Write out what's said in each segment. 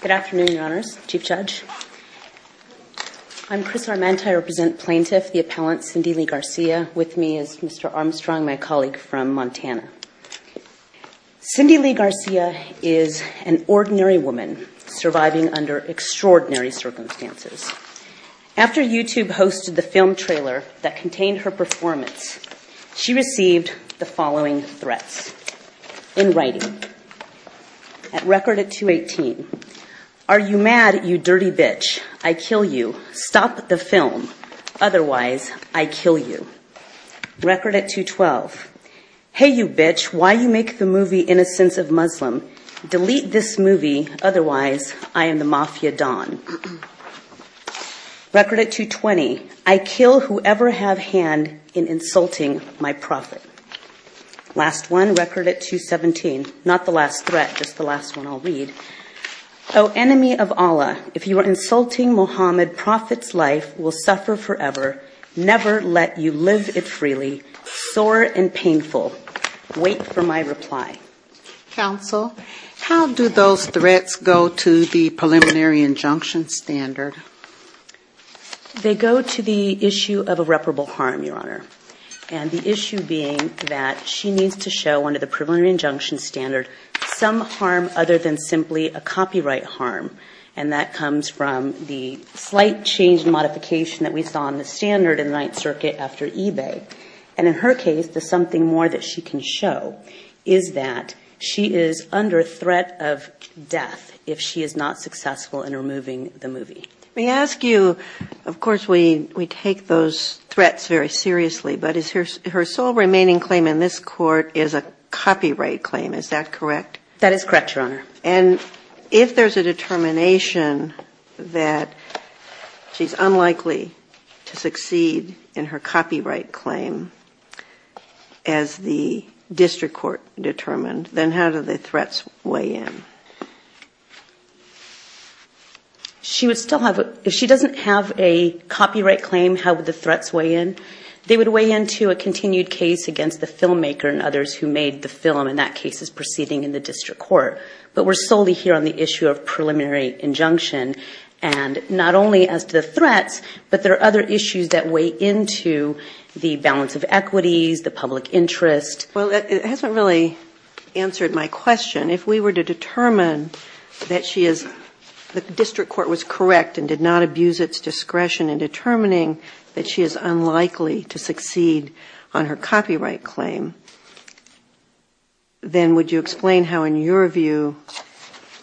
Good afternoon, Your Honors, Chief Judge. I'm Chris Arment. I represent Plaintiff, the appellant, Cindy Lee Garcia. With me is Mr. Armstrong, my colleague from Montana. Cindy Lee Garcia is an ordinary woman surviving under extraordinary circumstances. After YouTube hosted the film trailer that contained her performance, she received the following threats. In writing. Record at 218. Are you mad, you dirty bitch? I kill you. Stop the film. Otherwise, I kill you. Record at 212. Hey, you bitch, why you make the movie Innocence of Muslim? Delete this movie. Otherwise, I am the Mafia Don. Record at 220. I kill whoever have hand in insulting my prophet. Last one. Record at 217. Not the last threat, just the last one I'll read. Oh, enemy of Allah, if you are insulting Muhammad, prophet's life will suffer forever. Never let you live it freely. Sore and painful. Wait for my reply. Counsel, how do those threats go to the preliminary injunction standard? They go to the issue of irreparable harm, Your Honor. And the issue being that she needs to show under the preliminary injunction standard some harm other than simply a copyright harm. And that comes from the slight change in modification that we saw in the standard in the Ninth Circuit after eBay. And in her case, there's something more that she can show, is that she is under threat of death if she is not successful in removing the movie. May I ask you, of course, we take those threats very seriously, but her sole remaining claim in this court is a copyright claim, is that correct? That is correct, Your Honor. And if there's a determination that she's unlikely to succeed in her copyright claim as the district court determined, then how do the threats weigh in? She would still have a, if she doesn't have a copyright claim, how would the threats weigh in? They would weigh into a continued case against the filmmaker and others who made the film, and that case is proceeding in the district court. But we're solely here on the issue of preliminary injunction. And not only as to the threats, but there are other issues that weigh into the balance of equities, the public interest. Well, it hasn't really answered my question. If we were to determine that she is, the district court was correct and did not abuse its discretion in determining that she is unlikely to succeed on her copyright claim, then would you explain how, in your view,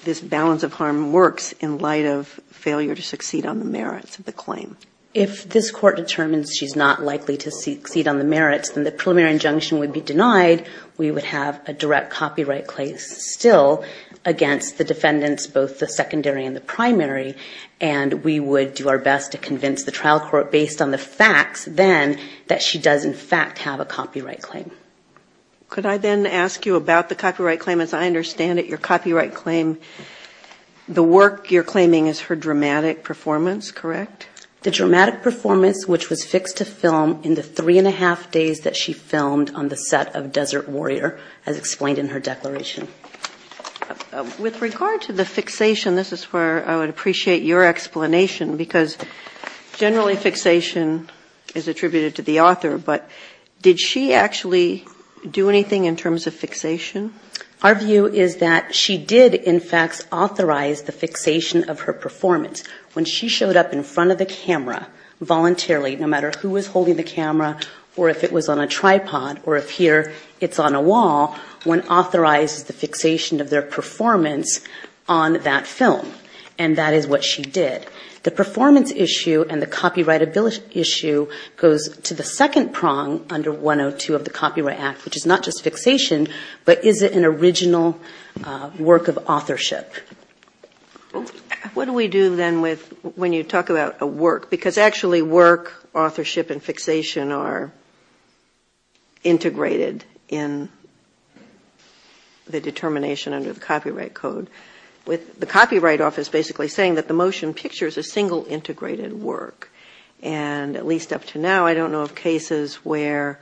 this balance of harm works in light of failure to succeed on the merits of the claim? If this court determines she's not likely to succeed on the merits, then the preliminary injunction would be denied. We would have a direct copyright claim still against the defendants, both the secondary and the primary. And we would do our best to convince the trial court, based on the facts then, that she does, in fact, have a copyright claim. Could I then ask you about the copyright claim? As I understand it, your copyright claim, the work you're claiming is her dramatic performance, correct? The dramatic performance, which was fixed to film in the three and a half days that she filmed on the set of Desert Warrior, as explained in her declaration. With regard to the fixation, this is where I would appreciate your explanation, because generally fixation is attributed to the author, but did she actually do anything in terms of fixation? Our view is that she did, in fact, authorize the fixation of her performance. When she showed up in front of the camera voluntarily, no matter who was holding the camera, or if it was on a tripod, or if here it's on a wall, one authorizes the fixation of their performance on that film. And that is what she did. The performance issue and the copyright issue goes to the second prong under 102 of the Copyright Act, which is not just fixation, but is it an original work of authorship? What do we do then when you talk about a work? Because actually work, authorship, and fixation are integrated in the determination under the Copyright Code, with the Copyright Office basically saying that the motion picture is a single integrated work. And at least up to now, I don't know of cases where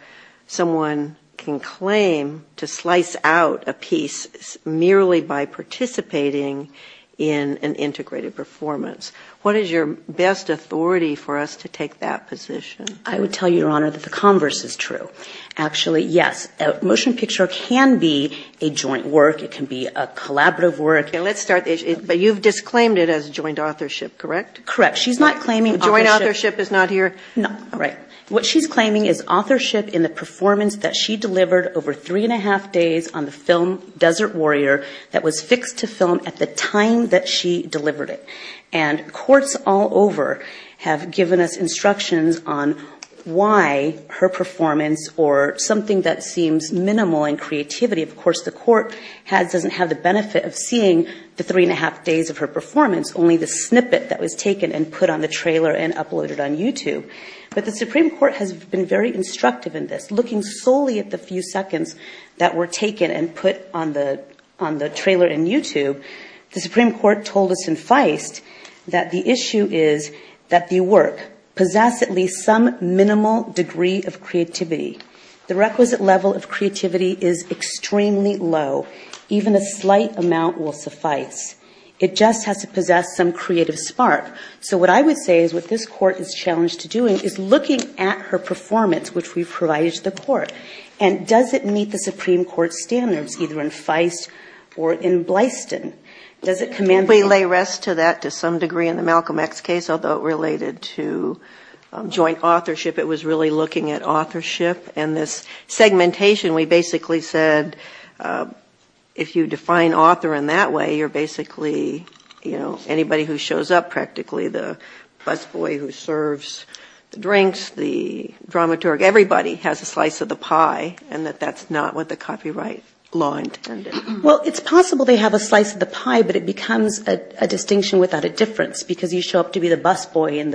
someone can claim to slice out a piece merely by participating in an integrated performance. What is your best authority for us to take that position? I would tell you, Your Honor, that the converse is true. Actually, yes. A motion picture can be a joint work. It can be a collaborative work. Let's start there. But you've disclaimed it as joint authorship, correct? Correct. She's not claiming authorship. Joint authorship is not here? No. All right. What she's claiming is authorship in the performance that she delivered over three and a half days on the film Desert Warrior that was fixed to film at the time that she delivered it. And courts all over have given us instructions on why her performance or something that seems minimal in creativity. Of course, the court doesn't have the benefit of seeing the three and a half days of her performance, only the snippet that was taken and put on the trailer and uploaded on YouTube. But the Supreme Court has been very instructive in this. Looking solely at the few seconds that were taken and put on the trailer in YouTube, the Supreme Court told us in Feist that the issue is that the work possess at least some minimal degree of creativity. The requisite level of creativity is extremely low. Even a slight amount will suffice. It just has to possess some creative spark. So what I would say is what this court is challenged to doing is looking at her performance, which we've provided to the court, and does it meet the Supreme Court standards, either in Feist or in Blyston? Does it commend her? We lay rest to that to some degree in the Malcolm X case, although it related to joint authorship. It was really looking at authorship. And this segmentation, we basically said if you define author in that way, you're basically, you know, anybody who shows up practically, the busboy who serves the drinks, the dramaturge, everybody has a slice of the pie, and that that's not what the copyright law intended. Well, it's possible they have a slice of the pie, but it becomes a distinction without a difference, because you show up to be the busboy in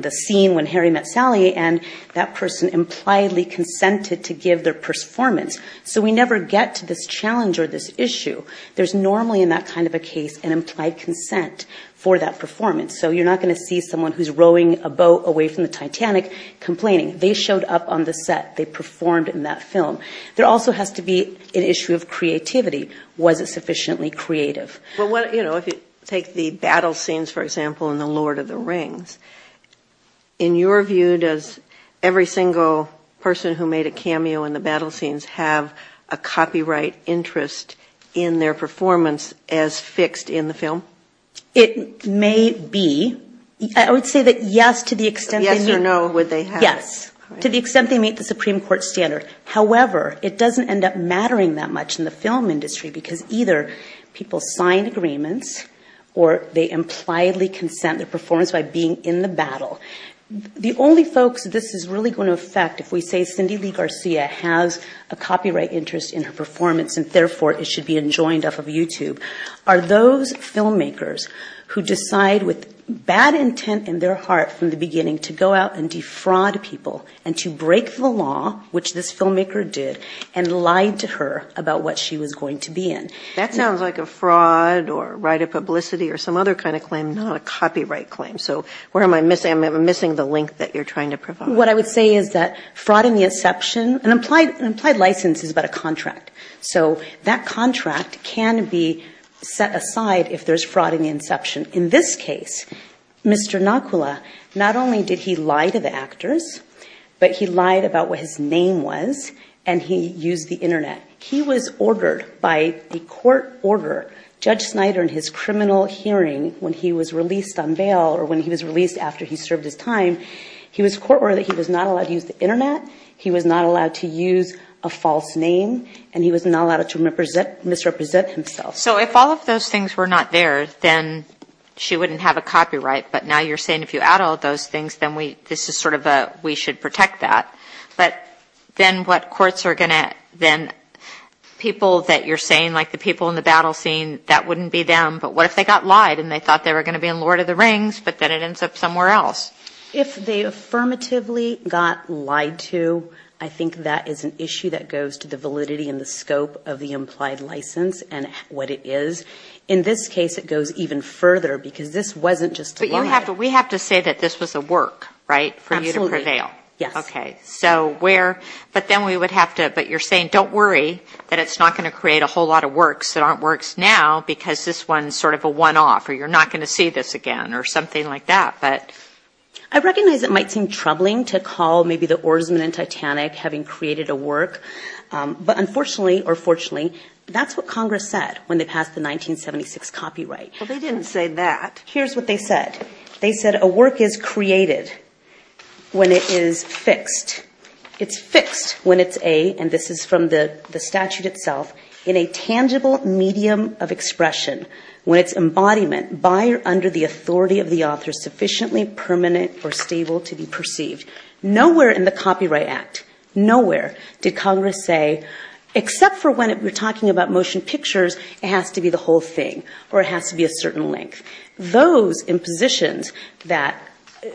the scene when Harry met Sally, and that person impliedly consented to give their performance. So we never get to this challenge or this issue. There's normally in that kind of a case an implied consent for that performance. So you're not going to see someone who's rowing a boat away from the Titanic complaining. They showed up on the set. They performed in that film. There also has to be an issue of creativity. Was it sufficiently creative? Well, you know, if you take the battle scenes, for example, in The Lord of the Rings, in your view, does every single person who made a cameo in the battle scenes have a copyright interest in their performance as fixed in the film? It may be. I would say that yes to the extent they make the Supreme Court standard. However, it doesn't end up mattering that much in the film industry, because either people sign agreements or they impliedly consent their performance by being in the battle. The only folks this is really going to affect, if we say Cindy Lee Garcia has a copyright interest in her performance and therefore it should be enjoined off of YouTube, are those filmmakers who decide with bad intent in their heart from the beginning to go out and defraud people and to break the law, which this filmmaker did, and lied to her about what she was going to be in. That sounds like a fraud or right of publicity or some other kind of claim, not a copyright claim. So where am I missing? I'm missing the link that you're trying to provide. What I would say is that fraud in the inception, an implied license is about a contract. So that contract can be set aside if there's fraud in the inception. In this case, Mr. Nakula, not only did he lie to the actors, but he lied about what his name was, and he used the Internet. He was ordered by the court order, Judge Snyder in his criminal hearing when he was released on bail or when he was released after he served his time, he was court-ordered that he was not allowed to use the Internet, he was not allowed to use a false name, and he was not allowed to misrepresent himself. So if all of those things were not there, then she wouldn't have a copyright. But now you're saying if you add all those things, then this is sort of a we should protect that. But then what courts are going to then people that you're saying, like the people in the battle scene, that wouldn't be them. But what if they got lied and they thought they were going to be in Lord of the Rings, but then it ends up somewhere else? If they affirmatively got lied to, I think that is an issue that goes to the validity and the scope of the implied license and what it is. In this case, it goes even further because this wasn't just a lie. But we have to say that this was a work, right, for you to prevail. Absolutely, yes. Okay. So where, but then we would have to, but you're saying don't worry that it's not going to create a whole lot of works that aren't works now because this one's sort of a one-off or you're not going to see this again or something like that. I recognize it might seem troubling to call maybe the oarsmen in Titanic having created a work, but unfortunately or fortunately, that's what Congress said when they passed the 1976 copyright. Well, they didn't say that. Here's what they said. They said a work is created when it is fixed. It's fixed when it's a, and this is from the statute itself, in a tangible medium of expression. When it's embodiment, by or under the authority of the author, sufficiently permanent or stable to be perceived. Nowhere in the Copyright Act, nowhere did Congress say except for when we're talking about motion pictures, it has to be the whole thing or it has to be a certain length. Those impositions that,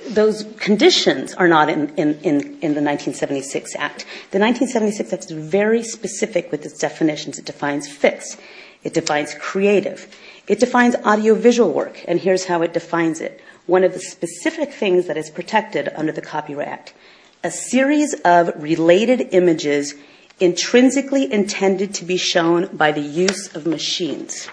those conditions are not in the 1976 Act. The 1976 Act is very specific with its definitions. It defines fixed. It defines creative. It defines audiovisual work, and here's how it defines it. One of the specific things that is protected under the Copyright Act, a series of related images intrinsically intended to be shown by the use of machines.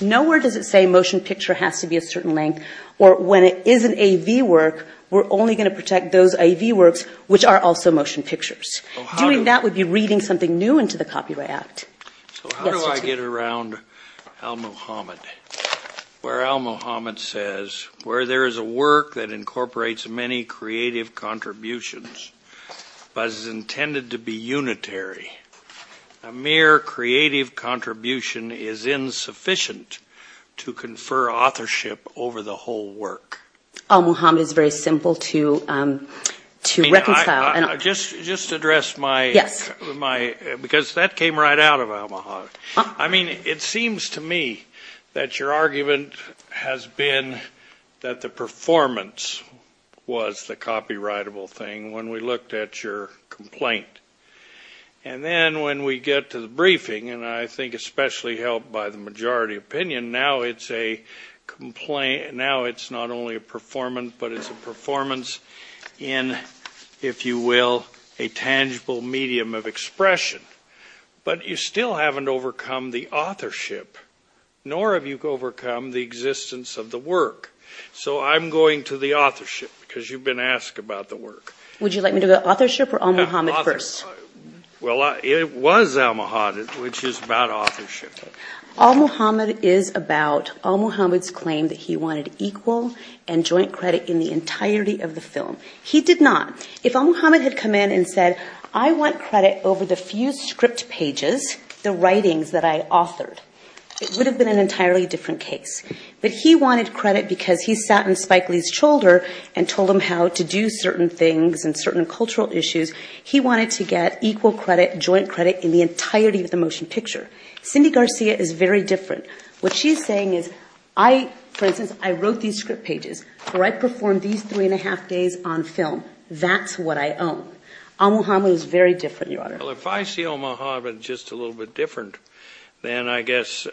Nowhere does it say motion picture has to be a certain length or when it is an AV work, we're only going to protect those AV works, which are also motion pictures. Doing that would be reading something new into the Copyright Act. So how do I get around al-Muhammad, where al-Muhammad says, where there is a work that incorporates many creative contributions but is intended to be unitary, a mere creative contribution is insufficient to confer authorship over the whole work. Al-Muhammad is very simple to reconcile. Just to address my, because that came right out of al-Muhammad. I mean, it seems to me that your argument has been that the performance was the copyrightable thing when we looked at your complaint. And then when we get to the briefing, and I think especially helped by the majority opinion, now it's not only a performance, but it's a performance in, if you will, a tangible medium of expression. But you still haven't overcome the authorship, nor have you overcome the existence of the work. So I'm going to the authorship, because you've been asked about the work. Would you like me to go authorship or al-Muhammad first? Well, it was al-Muhammad, which is about authorship. Al-Muhammad is about al-Muhammad's claim that he wanted equal and joint credit in the entirety of the film. He did not. If al-Muhammad had come in and said, I want credit over the few script pages, the writings that I authored, it would have been an entirely different case. But he wanted credit because he sat on Spike Lee's shoulder and told him how to do certain things and certain cultural issues. He wanted to get equal credit, joint credit in the entirety of the motion picture. Cindy Garcia is very different. What she's saying is, for instance, I wrote these script pages, or I performed these three and a half days on film. That's what I own. Al-Muhammad is very different, Your Honor. Well, if I see al-Muhammad just a little bit different, then I guess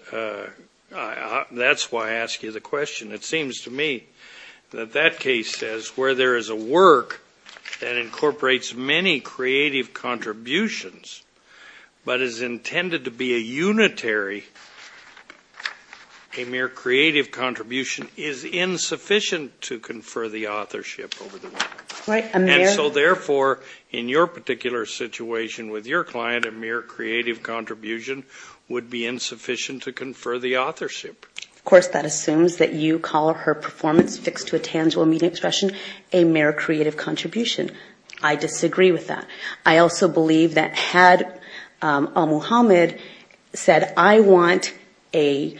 that's why I ask you the question. It seems to me that that case says where there is a work that incorporates many creative contributions but is intended to be a unitary, a mere creative contribution is insufficient to confer the authorship over the work. And so, therefore, in your particular situation with your client, a mere creative contribution would be insufficient to confer the authorship. Of course, that assumes that you call her performance fixed to a tangible meaning expression, a mere creative contribution. I disagree with that. I also believe that had al-Muhammad said, I want a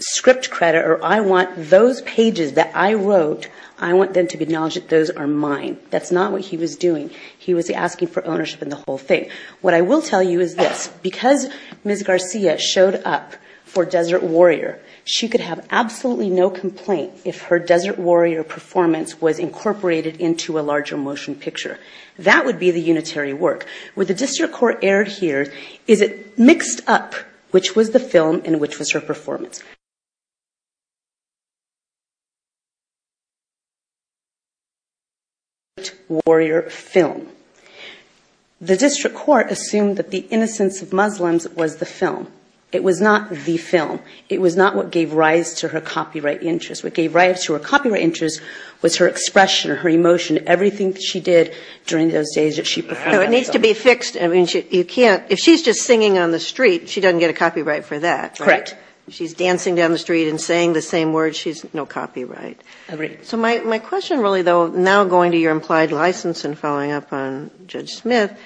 script credit or I want those pages that I wrote, I want them to acknowledge that those are mine. That's not what he was doing. He was asking for ownership in the whole thing. What I will tell you is this. Because Ms. Garcia showed up for Desert Warrior, she could have absolutely no complaint if her Desert Warrior performance was incorporated into a larger motion picture. That would be the unitary work. Where the district court erred here is it mixed up which was the film and which was her performance. Desert Warrior film. The district court assumed that The Innocence of Muslims was the film. It was not the film. It was not what gave rise to her copyright interest. What gave rise to her copyright interest was her expression, her emotion. Everything she did during those days that she performed. It needs to be fixed. If she's just singing on the street, she doesn't get a copyright for that. Correct. If she's dancing down the street and saying the same words, she has no copyright. Agreed. My question really though, now going to your implied license and following up on Judge Smith,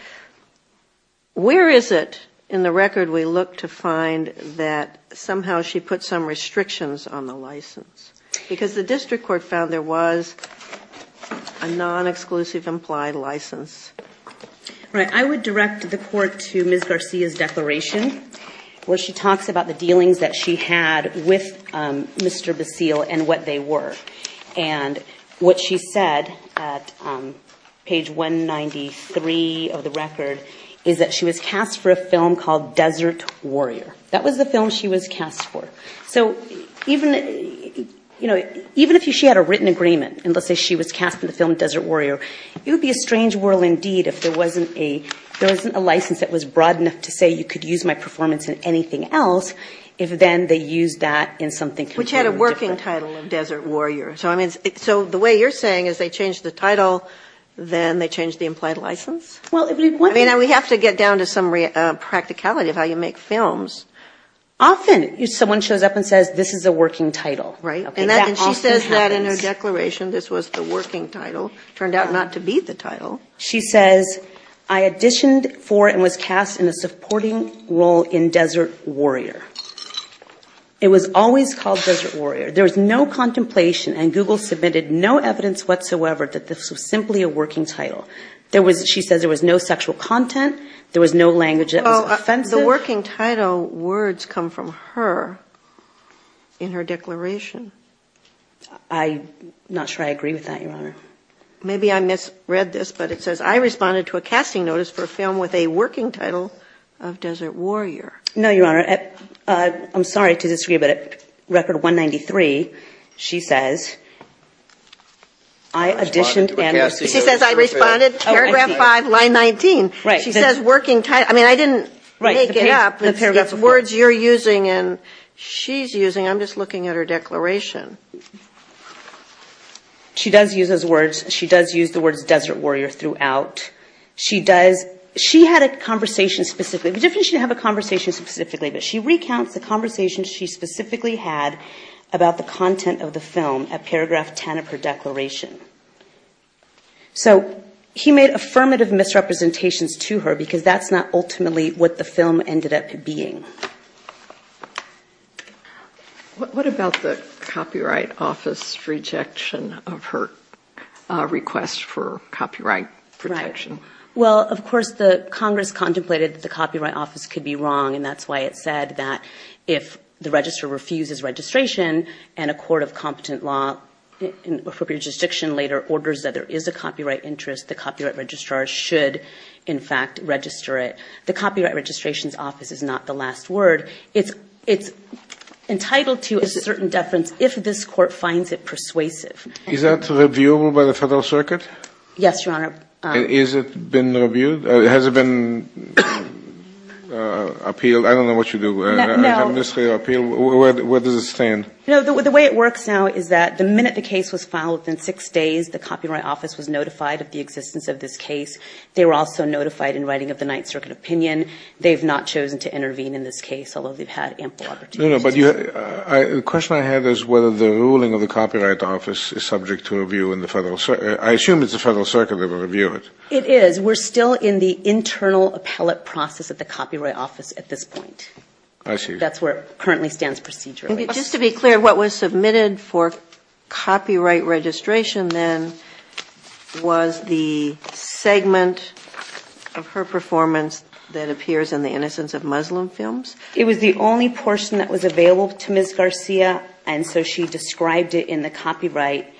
where is it in the record we look to find that somehow she put some restrictions on the license? Because the district court found there was a non-exclusive implied license. Right. I would direct the court to Ms. Garcia's declaration where she talks about the dealings that she had with Mr. Basile and what they were. And what she said at page 193 of the record is that she was cast for a film called Desert Warrior. That was the film she was cast for. So even if she had a written agreement and let's say she was cast for the film Desert Warrior, it would be a strange world indeed if there wasn't a license that was broad enough to say you could use my performance in anything else, if then they used that in something completely different. Which had a working title of Desert Warrior. So the way you're saying is they changed the title, then they changed the implied license? Well, it would be one thing. We have to get down to some practicality of how you make films. Often someone shows up and says this is a working title. Right. And she says that in her declaration, this was the working title. Turned out not to be the title. She says, I auditioned for and was cast in a supporting role in Desert Warrior. It was always called Desert Warrior. There was no contemplation and Google submitted no evidence whatsoever that this was simply a working title. There was no language that was offensive. The working title words come from her in her declaration. I'm not sure I agree with that, Your Honor. Maybe I misread this, but it says, I responded to a casting notice for a film with a working title of Desert Warrior. No, Your Honor. I'm sorry to disagree, but at record 193, she says, I auditioned. She says, I responded, paragraph 5, line 19. She says working title. I mean, I didn't make it up. It's the words you're using and she's using. I'm just looking at her declaration. She does use those words. She does use the words Desert Warrior throughout. She had a conversation specifically. It would be different if she didn't have a conversation specifically. But she recounts the conversation she specifically had about the content of the film at paragraph 10 of her declaration. So he made affirmative misrepresentations to her because that's not ultimately what the film ended up being. What about the Copyright Office rejection of her request for copyright protection? Right. Well, of course, the Congress contemplated that the Copyright Office could be wrong. And that's why it said that if the registrar refuses registration and a court of competent law in an appropriate jurisdiction later orders that there is a copyright interest, the copyright registrar should, in fact, register it. The Copyright Registration Office is not the last word. It's entitled to a certain deference if this court finds it persuasive. Is that reviewable by the Federal Circuit? Yes, Your Honor. And has it been reviewed? Has it been appealed? I don't know what you do. No. Where does it stand? No, the way it works now is that the minute the case was filed, within six days, the Copyright Office was notified of the existence of this case. They were also notified in writing of the Ninth Circuit opinion. They've not chosen to intervene in this case, although they've had ample opportunity to. The question I had is whether the ruling of the Copyright Office is subject to review in the Federal Circuit. I assume it's the Federal Circuit that will review it. It is. We're still in the internal appellate process at the Copyright Office at this point. I see. That's where it currently stands procedurally. Just to be clear, what was submitted for copyright registration then was the segment of her performance that appears in the Innocence of Muslim films? It was the only portion that was available to Ms. Garcia, and so she described it in the copyright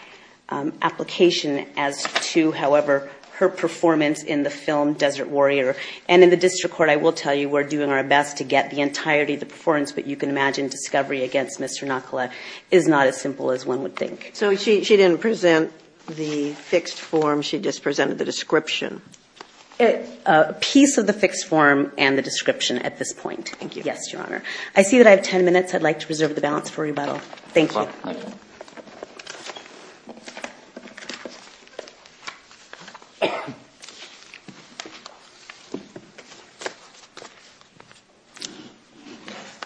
application as to, however, her performance in the film Desert Warrior. And in the district court, I will tell you, we're doing our best to get the entirety of the performance, but you can imagine discovery against Mr. Nakula is not as simple as one would think. So she didn't present the fixed form. She just presented the description. A piece of the fixed form and the description at this point. Thank you. Yes, Your Honor. I see that I have 10 minutes. I'd like to reserve the balance for rebuttal. Thank you. Thank you.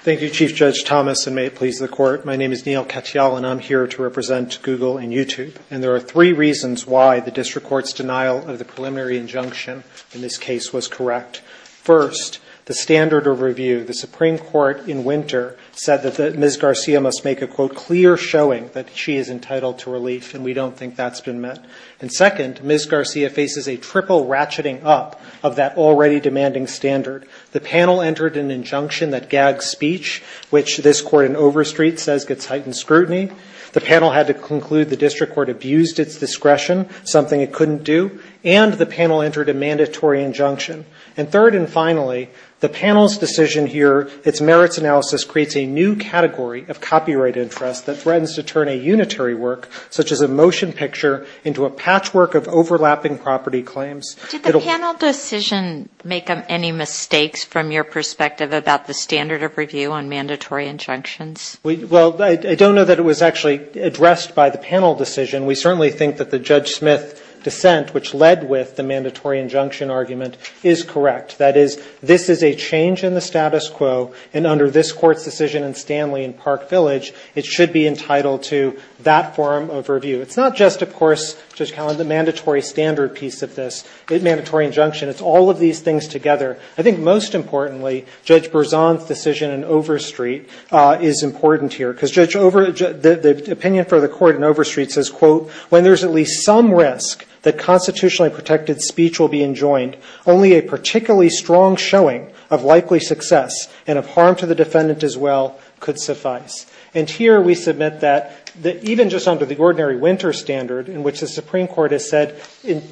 Thank you, Chief Judge Thomas, and may it please the Court. My name is Neil Katyal, and I'm here to represent Google and YouTube, and there are three reasons why the district court's denial of the preliminary injunction in this case was correct. First, the standard of review, the Supreme Court in winter said that Ms. Garcia must make a, quote, clear showing that she is entitled to relief, and we don't think that's been met. And second, Ms. Garcia faces a triple ratcheting up of that already demanding standard. The panel entered an injunction that gags speech, which this court in Overstreet says gets heightened scrutiny. The panel had to conclude the district court abused its discretion, something it couldn't do. And the panel entered a mandatory injunction. And third and finally, the panel's decision here, its merits analysis, creates a new category of copyright interest that threatens to turn a unitary work, such as a motion picture, into a patchwork of overlapping property claims. Did the panel decision make any mistakes from your perspective about the standard of review on mandatory injunctions? Well, I don't know that it was actually addressed by the panel decision. We certainly think that the Judge Smith dissent, which led with the mandatory injunction argument, is correct. That is, this is a change in the status quo, and under this Court's decision in Stanley and Park Village, it should be entitled to that form of review. It's not just, of course, Judge Callan, the mandatory standard piece of this mandatory injunction. It's all of these things together. I think most importantly, Judge Berzon's decision in Overstreet is important here. Because the opinion for the Court in Overstreet says, quote, when there's at least some risk that constitutionally protected speech will be enjoined, only a particularly strong showing of likely success and of harm to the defendant as well could suffice. And here we submit that even just under the ordinary winter standard, in which the Supreme Court has said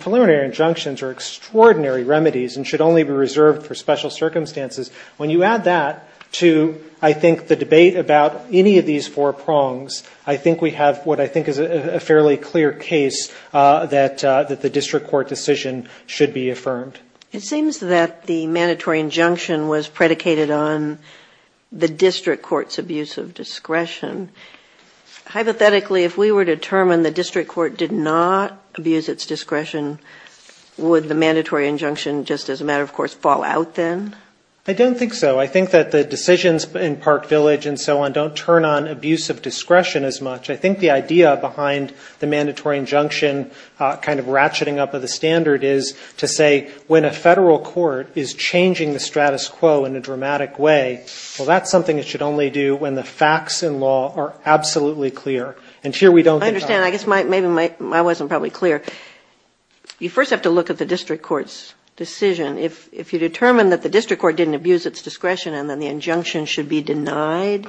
preliminary injunctions are extraordinary remedies and should only be reserved for special circumstances, when you add that to, I think, the debate about any of these four prongs, I think we have what I think is a fairly clear case that the district court decision should be affirmed. It seems that the mandatory injunction was predicated on the district court's abuse of discretion. Hypothetically, if we were to determine the district court did not abuse its discretion, would the mandatory injunction, just as a matter of course, fall out then? I don't think so. I think that the decisions in Park Village and so on don't turn on abuse of discretion as much. I think the idea behind the mandatory injunction kind of ratcheting up of the standard is to say when a Federal court is changing the status quo in a dramatic way, well, that's something it should only do when the facts in law are absolutely clear. And here we don't get that. I understand. I guess maybe my wasn't probably clear. You first have to look at the district court's decision. If you determine that the district court didn't abuse its discretion and then the injunction should be denied,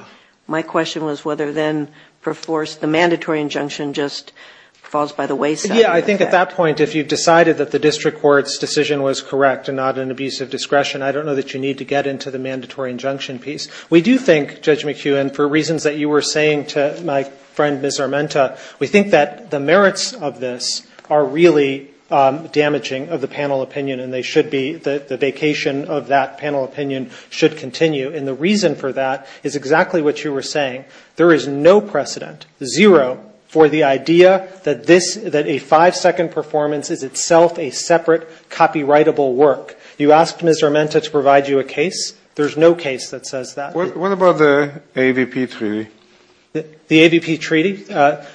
my question was whether then per force the mandatory injunction just falls by the wayside. Yeah, I think at that point if you decided that the district court's decision was correct and not an abuse of discretion, I don't know that you need to get into the mandatory injunction piece. We do think, Judge McHugh, and for reasons that you were saying to my friend Ms. Armenta, we think that the merits of this are really damaging of the panel opinion and they should be, the vacation of that panel opinion should continue. And the reason for that is exactly what you were saying. There is no precedent, zero, for the idea that this, that a five-second performance is itself a separate copyrightable work. You asked Ms. Armenta to provide you a case. There's no case that says that. What about the AVP Treaty? The AVP Treaty?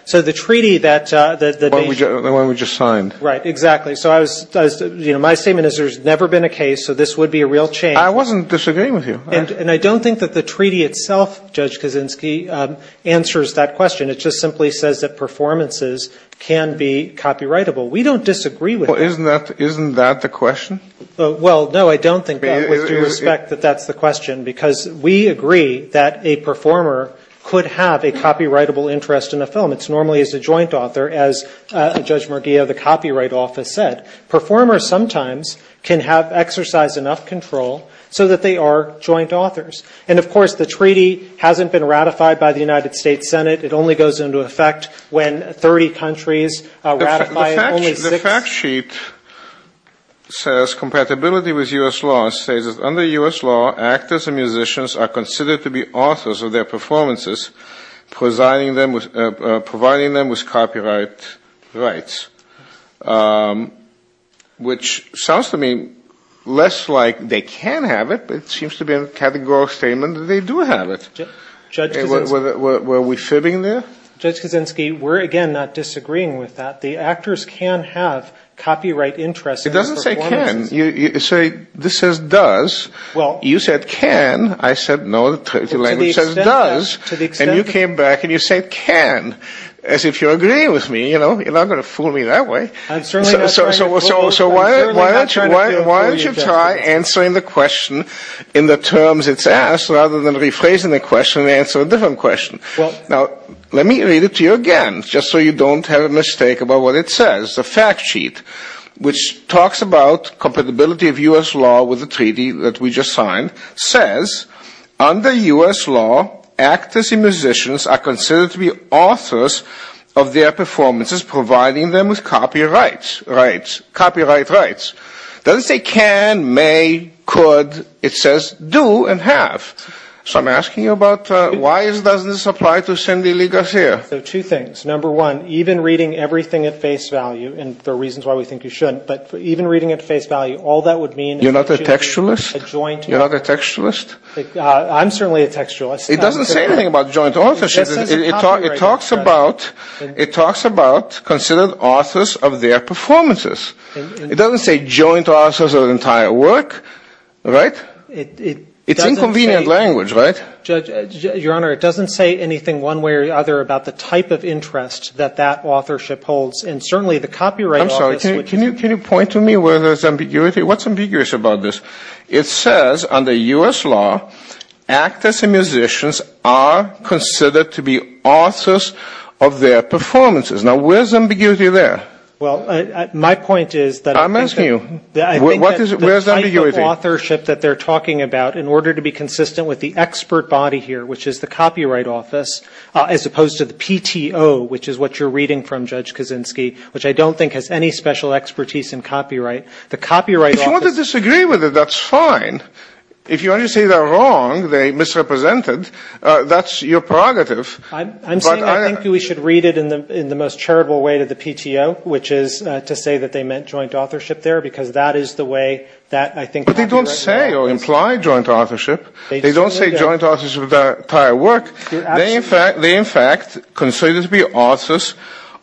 So the treaty that the nation... The one we just signed. Right, exactly. So I was, you know, my statement is there's never been a case, so this would be a real change. I wasn't disagreeing with you. And I don't think that the treaty itself, Judge Kaczynski, answers that question. It just simply says that performances can be copyrightable. We don't disagree with that. Well, isn't that the question? Well, no, I don't think that with due respect that that's the question, because we agree that a performer could have a copyrightable interest in a film. It's normally as a joint author, as Judge Murguia of the Copyright Office said. Performers sometimes can exercise enough control so that they are joint authors. And, of course, the treaty hasn't been ratified by the United States Senate. It only goes into effect when 30 countries ratify only six. The last sheet says compatibility with U.S. law. It says that under U.S. law, actors and musicians are considered to be authors of their performances, providing them with copyright rights, which sounds to me less like they can have it, but it seems to be a categorical statement that they do have it. Were we fibbing there? Judge Kaczynski, we're, again, not disagreeing with that. The actors can have copyright interests in their performances. It doesn't say can. This says does. You said can. I said no, the language says does. And you came back and you said can, as if you're agreeing with me. You're not going to fool me that way. So why don't you try answering the question in the terms it's asked, rather than rephrasing the question and answering a different question. Now, let me read it to you again, just so you don't have a mistake about what it says. The fact sheet, which talks about compatibility of U.S. law with the treaty that we just signed, says under U.S. law, actors and musicians are considered to be authors of their performances, providing them with copyright rights. It doesn't say can, may, could. It says do and have. So I'm asking you about why does this apply to Cindy Ligasier? So two things. Number one, even reading everything at face value, and there are reasons why we think you shouldn't, but even reading at face value, all that would mean is that she's a joint author. You're not a textualist? You're not a textualist? I'm certainly a textualist. It doesn't say anything about joint authorship. It talks about considered authors of their performances. It doesn't say joint authors of an entire work, right? It's inconvenient language, right? Your Honor, it doesn't say anything one way or the other about the type of interest that that authorship holds, and certainly the Copyright Office. I'm sorry. Can you point to me where there's ambiguity? What's ambiguous about this? It says under U.S. law, actors and musicians are considered to be authors of their performances. Now, where's ambiguity there? Well, my point is that I think that the type of authorship that they're talking about, in order to be consistent with the expert body here, which is the Copyright Office, as opposed to the PTO, which is what you're reading from, Judge Kaczynski, which I don't think has any special expertise in copyright, the Copyright Office. If you want to disagree with it, that's fine. If you want to say they're wrong, they misrepresented, that's your prerogative. I'm saying I think we should read it in the most charitable way to the PTO, which is to say that they meant joint authorship there, because that is the way that, I think, they don't say joint authorship of their entire work. They, in fact, are considered to be authors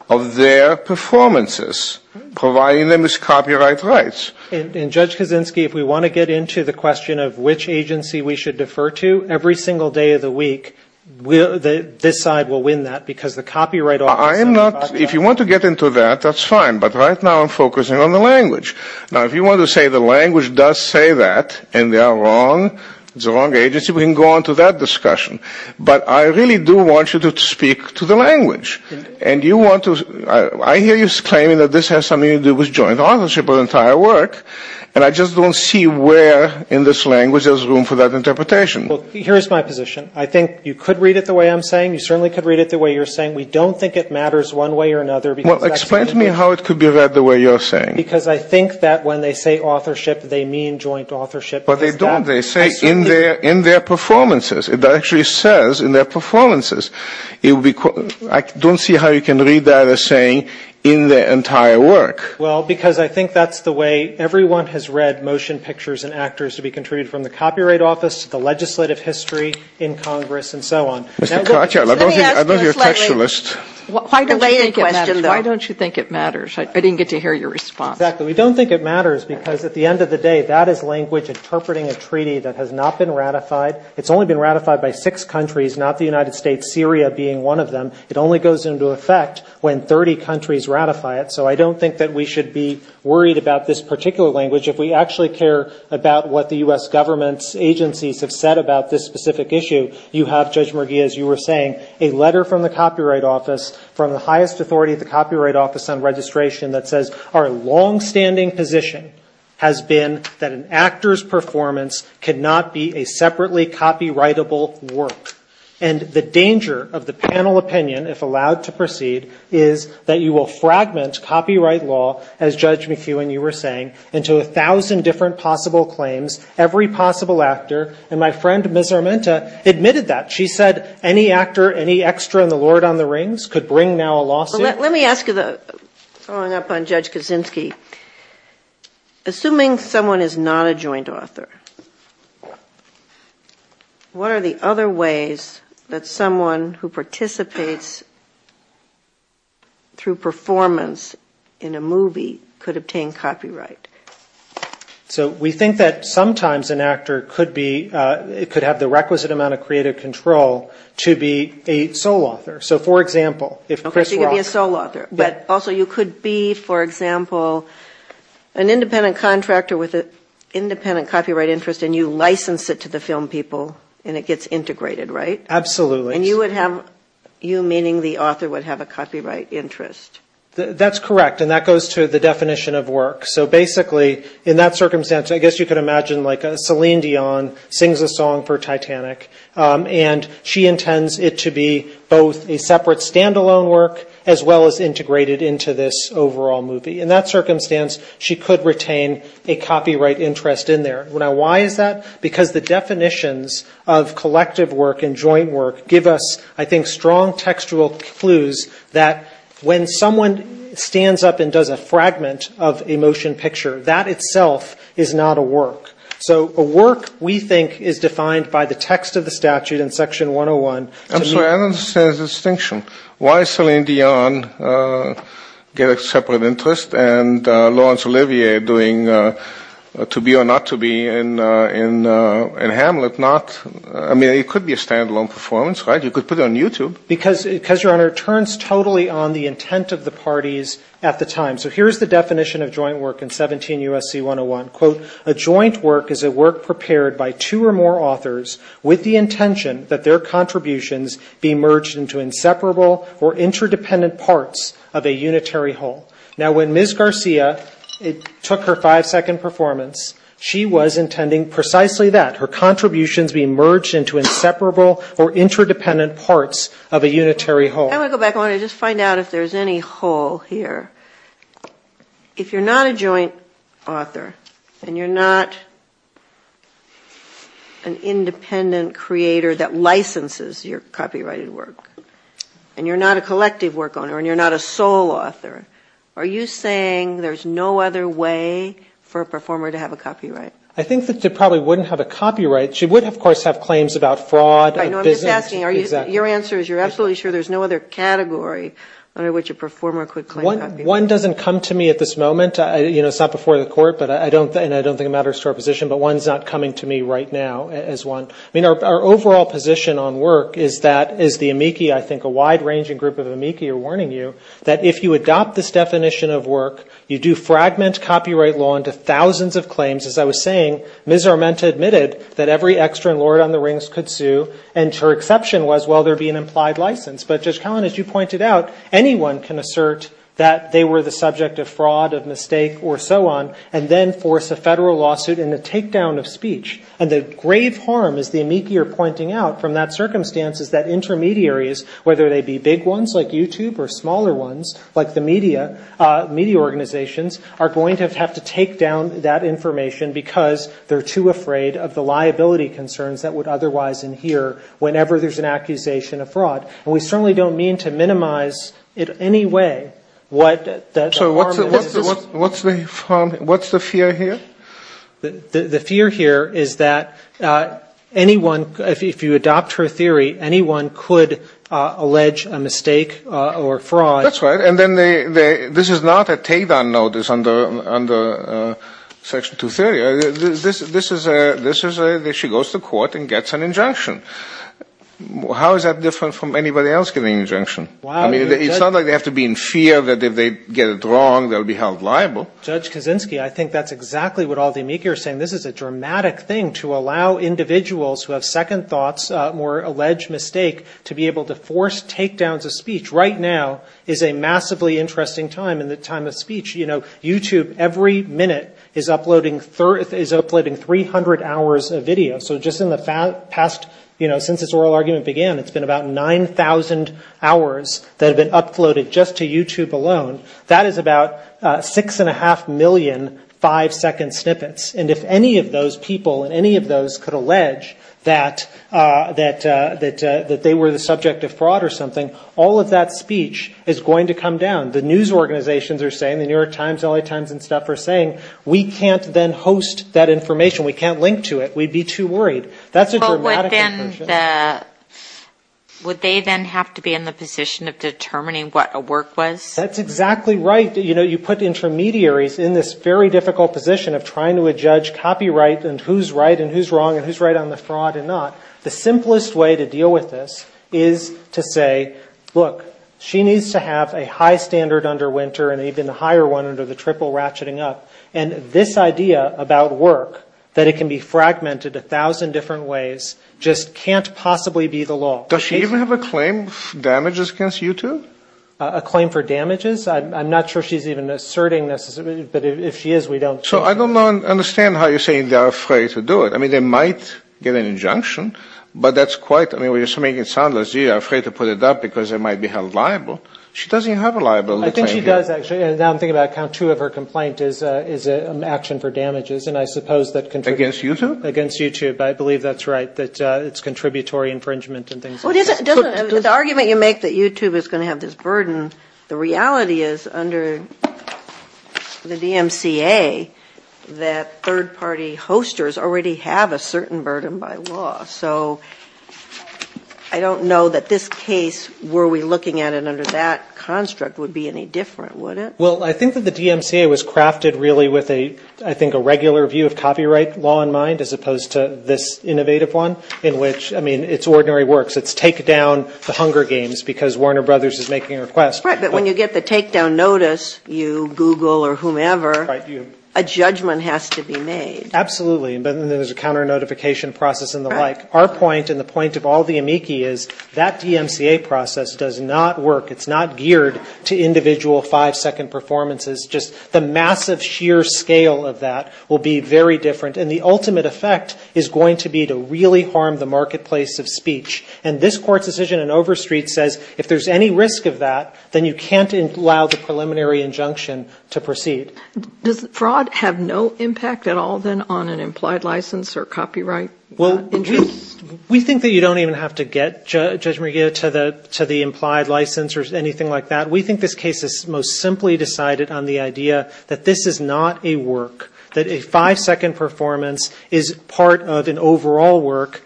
of their performances, providing them with copyright rights. And, Judge Kaczynski, if we want to get into the question of which agency we should defer to, every single day of the week, this side will win that, because the Copyright Office said we ought to. If you want to get into that, that's fine. But right now I'm focusing on the language. Now, if you want to say the language does say that, and they are wrong, it's the wrong agency, we can go on to that discussion. But I really do want you to speak to the language. And you want to, I hear you claiming that this has something to do with joint authorship of the entire work, and I just don't see where in this language there's room for that interpretation. Well, here's my position. I think you could read it the way I'm saying. You certainly could read it the way you're saying. We don't think it matters one way or another, because that's the way it is. Well, explain to me how it could be read the way you're saying. Because I think that when they say authorship, they mean joint authorship. But they don't. They say in their performances. It actually says in their performances. I don't see how you can read that as saying in the entire work. Well, because I think that's the way everyone has read motion pictures and actors to be contributed from the Copyright Office to the legislative history in Congress and so on. Mr. Katyal, I know you're a textualist. Why don't you think it matters? I didn't get to hear your response. Exactly. We don't think it matters, because at the end of the day, that is language interpreting a treaty that has not been ratified. It's only been ratified by six countries, not the United States, Syria being one of them. It only goes into effect when 30 countries ratify it. So I don't think that we should be worried about this particular language. If we actually care about what the U.S. Government's agencies have said about this specific issue, you have, Judge McGee, as you were saying, a letter from the Copyright Office on registration that says our longstanding position has been that an actor's performance cannot be a separately copyrightable work. And the danger of the panel opinion, if allowed to proceed, is that you will fragment copyright law, as Judge McGee, when you were saying, into a thousand different possible claims, every possible actor. And my friend, Ms. Armenta, admitted that. She said any actor, any extra in the Lord on the Rings could bring now a lawsuit. Let me ask you, following up on Judge Kaczynski, assuming someone is not a joint author, what are the other ways that someone who participates through performance in a movie could obtain copyright? So we think that sometimes an actor could be, could have the requisite amount of creative control to be a sole author. So, for example, if Chris Rock... Okay, so you could be a sole author. But also you could be, for example, an independent contractor with an independent copyright interest, and you license it to the film people, and it gets integrated, right? Absolutely. And you would have, you meaning the author, would have a copyright interest. That's correct. And that goes to the definition of work. So basically, in that circumstance, I guess you could imagine like Celine Dion sings a song for Titanic, and she intends it to be both a separate standalone work, as well as integrated into this overall movie. In that circumstance, she could retain a copyright interest in there. Now, why is that? Because the definitions of collective work and joint work give us, I think, strong textual clues that when someone stands up and does a joint work, it's not a work. So a work, we think, is defined by the text of the statute in Section 101. I'm sorry. I don't understand the distinction. Why Celine Dion get a separate interest, and Laurence Olivier doing To Be or Not To Be in Hamlet not, I mean, it could be a standalone performance, right? You could put it on YouTube. Because, Your Honor, it turns totally on the intent of the parties at the time. So here's the definition of joint work in 17 U.S.C. 101. Quote, a joint work is a work prepared by two or more authors with the intention that their contributions be merged into inseparable or interdependent parts of a unitary whole. Now, when Ms. Garcia took her five-second performance, she was intending precisely that, her contributions be merged into inseparable or interdependent parts of a unitary whole. I want to go back. I want to just find out if there's any hole here. If you're not a joint author, and you're not an independent creator that licenses your copyrighted work, and you're not a collective work owner, and you're not a sole author, are you saying there's no other way for a performer to have a copyright? I think that they probably wouldn't have a copyright. She would, of course, have claims about fraud and business. I know. I'm just asking. Your answer is you're absolutely sure there's no other copyright? There's no other category under which a performer could claim that. One doesn't come to me at this moment. You know, it's not before the court, and I don't think it matters to our position, but one's not coming to me right now as one. I mean, our overall position on work is that, as the amici, I think, a wide-ranging group of amici are warning you, that if you adopt this definition of work, you do fragment copyright law into thousands of claims. As I was saying, Ms. Armenta admitted that every extra in Lord on the Rings could sue, and her exception was, well, there'd be an But Judge Kallen, I don't think that's the case. As you pointed out, anyone can assert that they were the subject of fraud, of mistake, or so on, and then force a federal lawsuit and a And the grave harm, as the amici are pointing out, from that circumstance is that intermediaries, whether they be big ones like YouTube or smaller ones like the media, media organizations, are going to have to take down that information because they're too afraid of the liability concerns that would otherwise adhere whenever there's an accusation of fraud. And we certainly don't mean to minimize in any way what that harm is. So what's the fear here? The fear here is that anyone, if you adopt her theory, anyone could allege a mistake or fraud. That's right. And then this is not a take-down notice under Section 230. This is that she goes to court and gets an injunction. How is that different from anybody else getting an injunction? I mean, it's not like they have to be in fear that if they get it wrong, they'll be held liable. Judge Kaczynski, I think that's exactly what all the amici are saying. This is a dramatic thing to allow individuals who have second thoughts or alleged mistake to be able to force take-downs of speech. Right now is a massively interesting time in the time of speech. You know, YouTube every minute is uploading 300 hours of video. So just in the past, you know, since this oral argument began, it's been about 9,000 hours that have been uploaded just to YouTube alone. That is about 6.5 million five-second snippets. And if any of those people and any of those could allege that they were the subject of fraud or something, all of that speech is going to come down. The news organizations are saying, the New York Times, LA Times and stuff are saying, we can't then host that information. We can't link to it. We'd be too worried. That's a dramatic approach. But would they then have to be in the position of determining what a work was? That's exactly right. You know, you put intermediaries in this very difficult position of trying to adjudge copyright and who's right and who's wrong and who's right on the fraud and not. The simplest way to deal with this is to say, look, she needs to have a high standard under Winter and even a higher one under the triple ratcheting up. And this idea about work, that it can be fragmented a thousand different ways, just can't possibly be the law. Does she even have a claim of damages against YouTube? A claim for damages? I'm not sure she's even asserting this, but if she is, we don't. So I don't understand how you're saying they're afraid to do it. I mean, they might get an injunction, but that's quite, I mean, we're just making it sound as if they're afraid to put it up because they might be held liable. She doesn't have a liable. I think she does, actually. Now I'm thinking about count two of her complaint is an action for damages. Against YouTube? Against YouTube. I believe that's right, that it's contributory infringement and things like that. The argument you make that YouTube is going to have this burden, the reality is under the DMCA that third-party hosters already have a certain burden by law. So I don't know that this case, were we looking at it under that construct, would be an issue. Well, I think that the DMCA was crafted really with a, I think, a regular view of copyright law in mind, as opposed to this innovative one, in which, I mean, it's ordinary works. It's take down the Hunger Games because Warner Brothers is making a request. Right, but when you get the takedown notice, you Google or whomever, a judgment has to be made. Absolutely, but then there's a counter notification process and the like. Our point and the point of all the amici is that DMCA process does not work. It's not geared to individual five-second performances. Just the massive sheer scale of that will be very different. And the ultimate effect is going to be to really harm the marketplace of speech. And this Court's decision in Overstreet says if there's any risk of that, then you can't allow the preliminary injunction to proceed. Does fraud have no impact at all, then, on an implied license or copyright interest? Well, we think that you don't even have to get, Judge Maria, to the implied license or something like that. We think this case is most simply decided on the idea that this is not a work, that a five-second performance is part of an overall work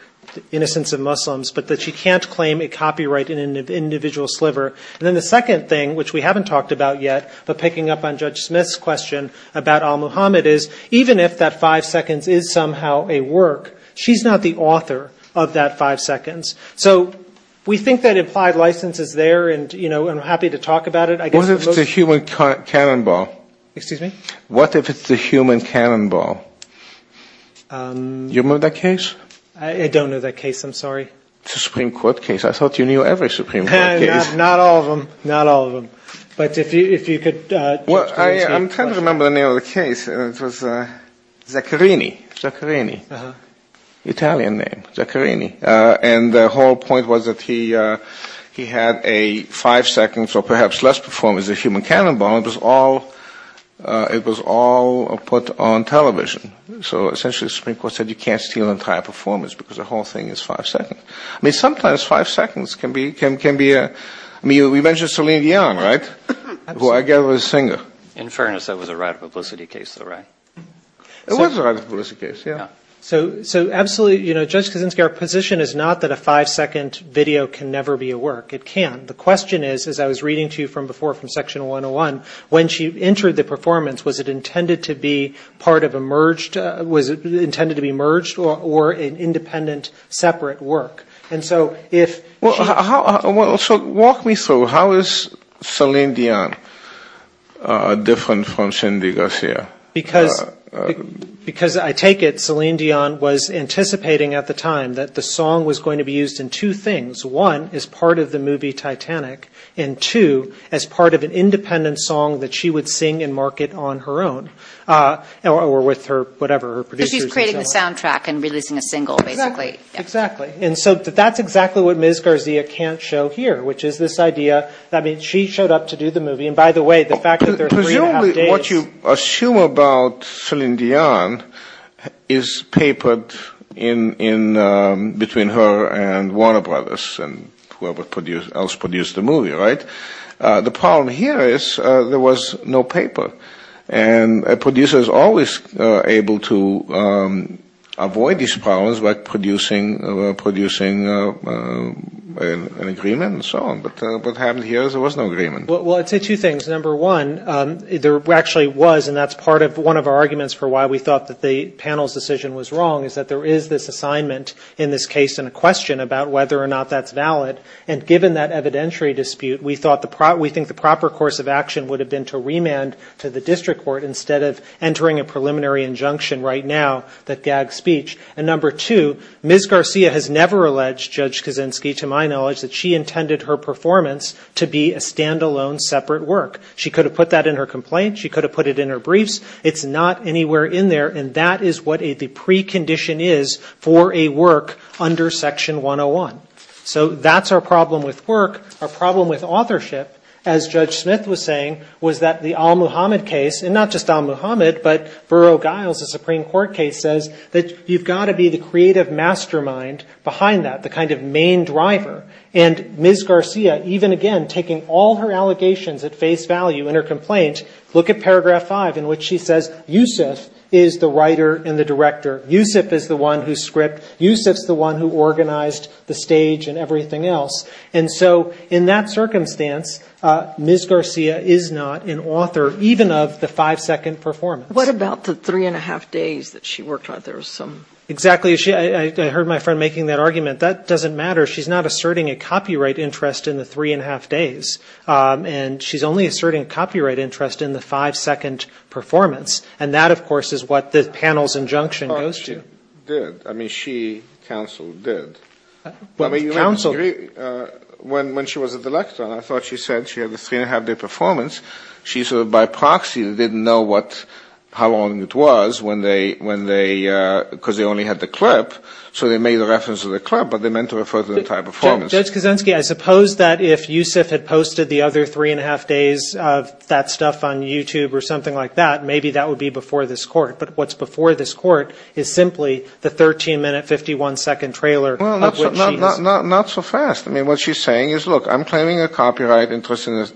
in a sense of Muslims, but that you can't claim a copyright in an individual sliver. And then the second thing, which we haven't talked about yet, but picking up on Judge Smith's question about al-Muhammad is, even if that five seconds is somehow a work, she's not the author of that five seconds. So we think that implied license is there and, you know, I'm happy to talk about it. What if it's a human cannonball? Excuse me? What if it's a human cannonball? You remember that case? I don't know that case. I'm sorry. It's a Supreme Court case. I thought you knew every Supreme Court case. Not all of them. Not all of them. But if you could... Well, I'm trying to remember the name of the case. It was Zaccherini. Zaccherini. Italian name. Zaccherini. And the whole point was that he had a five seconds, or perhaps less performance, a human cannonball, and it was all put on television. So essentially the Supreme Court said you can't steal an entire performance because the whole thing is five seconds. I mean, sometimes five seconds can be... I mean, we mentioned Celine Dion, right, who I gather was a singer. In fairness, that was a right of publicity case, though, right? It was a right of publicity case, yeah. So absolutely, you know, Judge Kuczynski, our position is not that a five second video can never be a work. It can. The question is, as I was reading to you from before from Section 101, when she entered the performance, was it intended to be part of a merged, was it intended to be merged or an independent, separate work? And so if... So walk me through, how is Celine Dion different from Cindy Garcia? Because I take it Celine Dion was anticipating at the time that the song was going to be used in two things. One, as part of the movie Titanic, and two, as part of an independent song that she would sing and market on her own. Or with her, whatever, her producers. Creating the soundtrack and releasing a single, basically. Exactly. And so that's exactly what Ms. Garcia can't show here, which is this idea, I mean, she showed up to do the movie. And by the way, the fact that there are three and a half days... Presumably what you assume about Celine Dion is papered in, between her and Warner Brothers and whoever else produced the movie, right? The problem here is there was no paper. And a producer is always able to avoid these problems by producing an agreement and so on. But what happened here is there was no agreement. Well, I'd say two things. Number one, there actually was, and that's part of one of our arguments for why we thought that the panel's decision was wrong, is that there is this assignment in this case and a question about whether or not that's valid. And given that evidentiary dispute, we thought the proper course of action would have been to remand to the district court instead of entering a preliminary injunction right now that gags speech. And number two, Ms. Garcia has never alleged, Judge Kaczynski, to my knowledge, that she intended her performance to be a standalone, separate work. She could have put that in her complaint. She could have put it in her briefs. It's not anywhere in there. And that is what the precondition is for a work under Section 101. So that's our problem with work. Our problem with authorship, as Judge Smith was saying, was that the al-Muhammad case, and not just al-Muhammad, but Burrough-Giles, the Supreme Court case, says that you've got to be the creative mastermind behind that, the kind of main driver. And Ms. Garcia, even again, taking all her allegations at face value in her complaint, look at paragraph 5 in which she says, Youssef is the writer and the director. Youssef is the one who script. Youssef's the one who organized the stage and the performance. And so in that circumstance, Ms. Garcia is not an author, even of the five-second performance. »» What about the three and a half days that she worked on it? »» Exactly. I heard my friend making that argument. That doesn't matter. She's not asserting a copyright interest in the three and a half days. And she's only asserting a copyright interest in the five-second performance. And that, of course, is what the panel's injunction goes to. »» But she did. I mean, she, counsel, did. When she was at the lectern, I thought she said she had the three and a half day performance. She sort of by proxy didn't know how long it was when they, because they only had the clip. So they made a reference to the clip, but they meant to refer to the entire performance. »» Judge Kaczynski, I suppose that if Youssef had posted the other three and a half days of that stuff on YouTube or something like that, maybe that would be before this court. But what's before this court is simply the 13-minute, 51-second trailer. »» Not so fast. I mean, what she's saying is, look, I'm claiming a copyright interest in the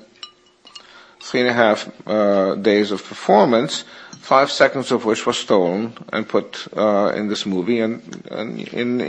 three and a half days of performance, five seconds of which was stolen and put in this movie and included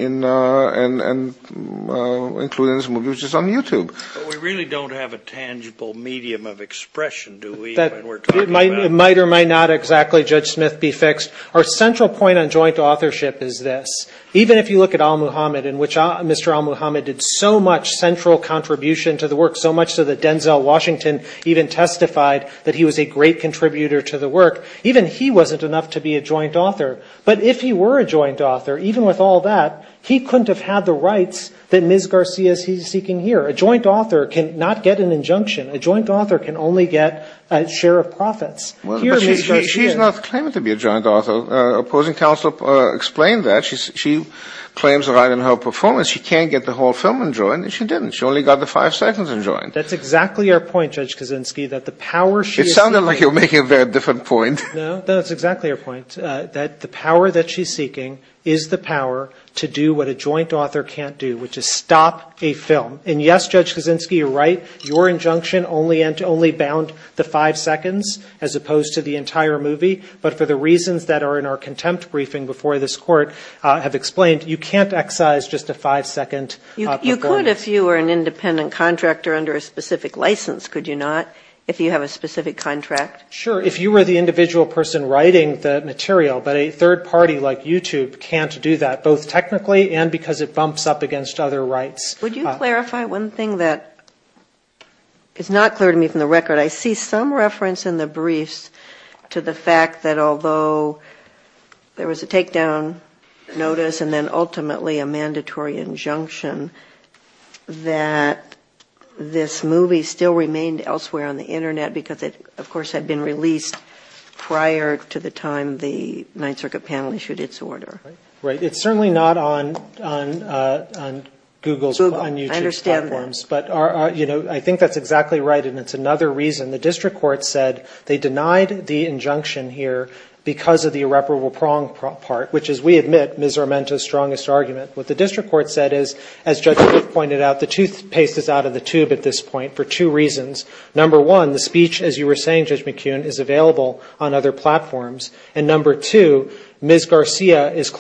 in this movie, which is on YouTube. »» But we really don't have a tangible medium of expression, do we, when we're talking about it? »» It might or might not exactly, Judge Smith, be fixed. Our central point on joint authorship is this. Even if you look at al-Muhammad, in which Mr. al-Muhammad did so much central contribution to the work, so much so that Denzel Washington even testified that he was a great contributor to the work, even he wasn't enough to be a joint author. But if he were a joint author, even with all that, he couldn't have had the rights that Ms. Garcia is seeking here. A joint author cannot get an entire film in joint. »» She's not claiming to be a joint author. Opposing counsel explained that. She claims the right in her performance. She can't get the whole film in joint, and she didn't. She only got the five seconds in joint. »» That's exactly our point, Judge Kaczynski. »» It sounded like you were making a very different point. »» No, that's exactly our point, that the power that she's seeking is the power to do what a joint author can't do, which is stop a film. And yes, Judge Kaczynski, you're right. Your injunction only bound the five seconds as opposed to the entire movie. But for the reasons that are in our contempt briefing before this Court have explained, you can't excise just a five second performance. »» You could if you were an independent contractor under a specific license, could you not, if you have a specific contract? »» Sure. If you were the individual person writing the material, but a third party like YouTube can't do that, both technically and because it bumps up against other rights. »» Would you clarify one thing that is not clear to me from the record? I see some reference in the briefs to the fact that although there was a takedown notice and then ultimately a mandatory injunction, that this movie still remained elsewhere on the Internet because it, of course, had been released prior to the time the Ninth Circuit panel issued its order. »» Right. It's certainly not on Google's, on YouTube's platforms. »» I understand that. »» But I think that's exactly right, and it's another reason. The district court said they denied the injunction here because of the irreparable prong part, which is, we admit, Ms. Armento's strongest argument. What the district court said is, as Judge McCune pointed out, the toothpaste is out of the tube at this point for two reasons. Number one, the speech, as you were saying, Judge McCune, is available on other platforms. And number two, Ms. Garcia is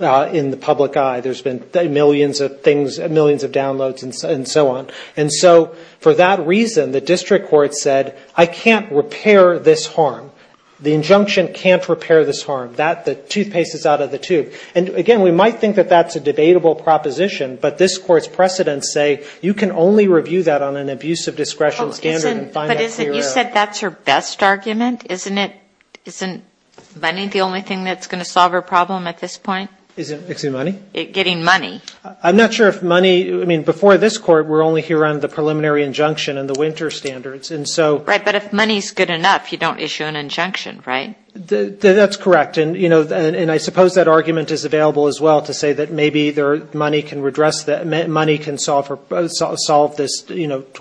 not in the public eye. There's been millions of things, millions of downloads and so on. And so for that reason, the district court said, I can't repair this harm. The injunction can't repair this harm. The toothpaste is out of the tube. And again, we might think that that's a debatable proposition, but this Court's precedents say you can only review that on an abuse of discretion standard and find that clear. »» But you said that's her best argument. Isn't money the only thing that's going to fix it? »» Fixing money? »» Getting money. »» I'm not sure if money before this Court, we're only here on the preliminary injunction and the winter standards. »» Right. But if money is good enough, you don't issue an injunction, right? »» That's correct. And I suppose that argument is available as well to say that maybe money can redress that, money can solve this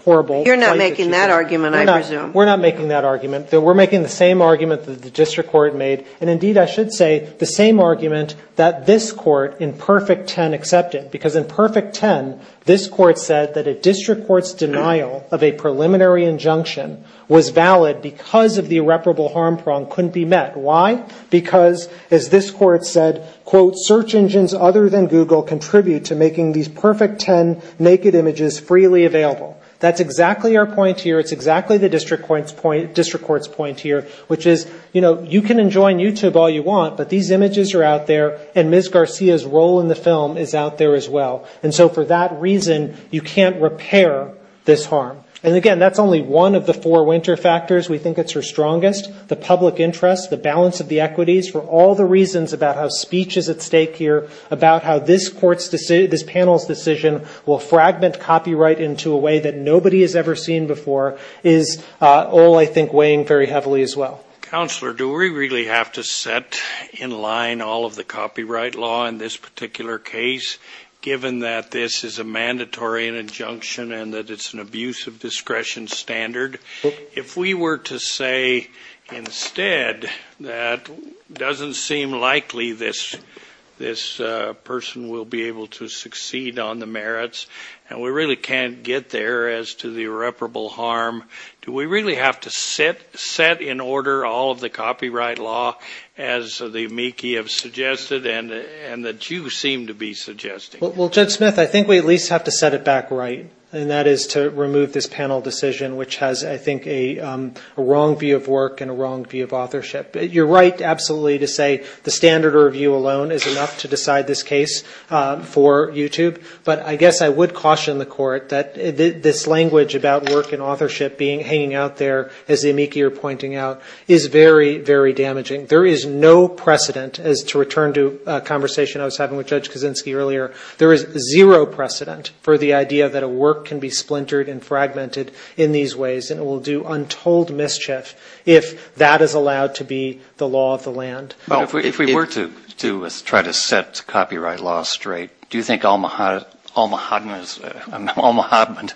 horrible... »» You're not making that argument, I presume. »» We're not making that argument. We're making the same argument that the district court made. And indeed, I should say the same argument that this Court in perfect 10 accepted. Because in perfect 10, this Court said that a district court's denial of a preliminary injunction was valid because of the irreparable harm prong couldn't be met. Why? Because, as this Court said, quote, search engines other than Google contribute to making these perfect 10 naked images freely available. That's exactly our point here. It's exactly the district court's point here, which is, you know, you can't enjoy YouTube all you want, but these images are out there, and Ms. Garcia's role in the film is out there as well. And so for that reason, you can't repair this harm. And again, that's only one of the four winter factors we think it's her strongest. The public interest, the balance of the equities, for all the reasons about how speech is at stake here, about how this panel's decision will fragment copyright into a way that nobody has ever seen before, is all, I think, weighing very heavily as well. »» Counselor, do we really have to set in line all of the copyright law in this particular case, given that this is a mandatory injunction and that it's an abuse of discretion standard? If we were to say, instead, that doesn't seem likely this person will be able to succeed on the merits, and we really can't get there as to the irreparable harm, do we really have to set in order all of the copyright law as the amici have suggested and that you seem to be suggesting? »» Well, Judge Smith, I think we at least have to set it back right. And that is to remove this panel decision, which has, I think, a wrong view of work and a wrong view of authorship. You're right, absolutely, to say the standard review alone is enough to decide this case for YouTube. But I guess I would caution the court that this language about work and authorship hanging out there, as the amici are pointing out, is very, very damaging. There is no precedent, as to return to a conversation I was having with Judge Kaczynski earlier, there is zero precedent for the idea that a work can be splintered and fragmented in these ways, and it will do untold mischief if that is allowed to be the law of the land. »» If we were to try to set copyright law straight, do you think that's a good thing? I mean, I'm not sure how Alma Hodman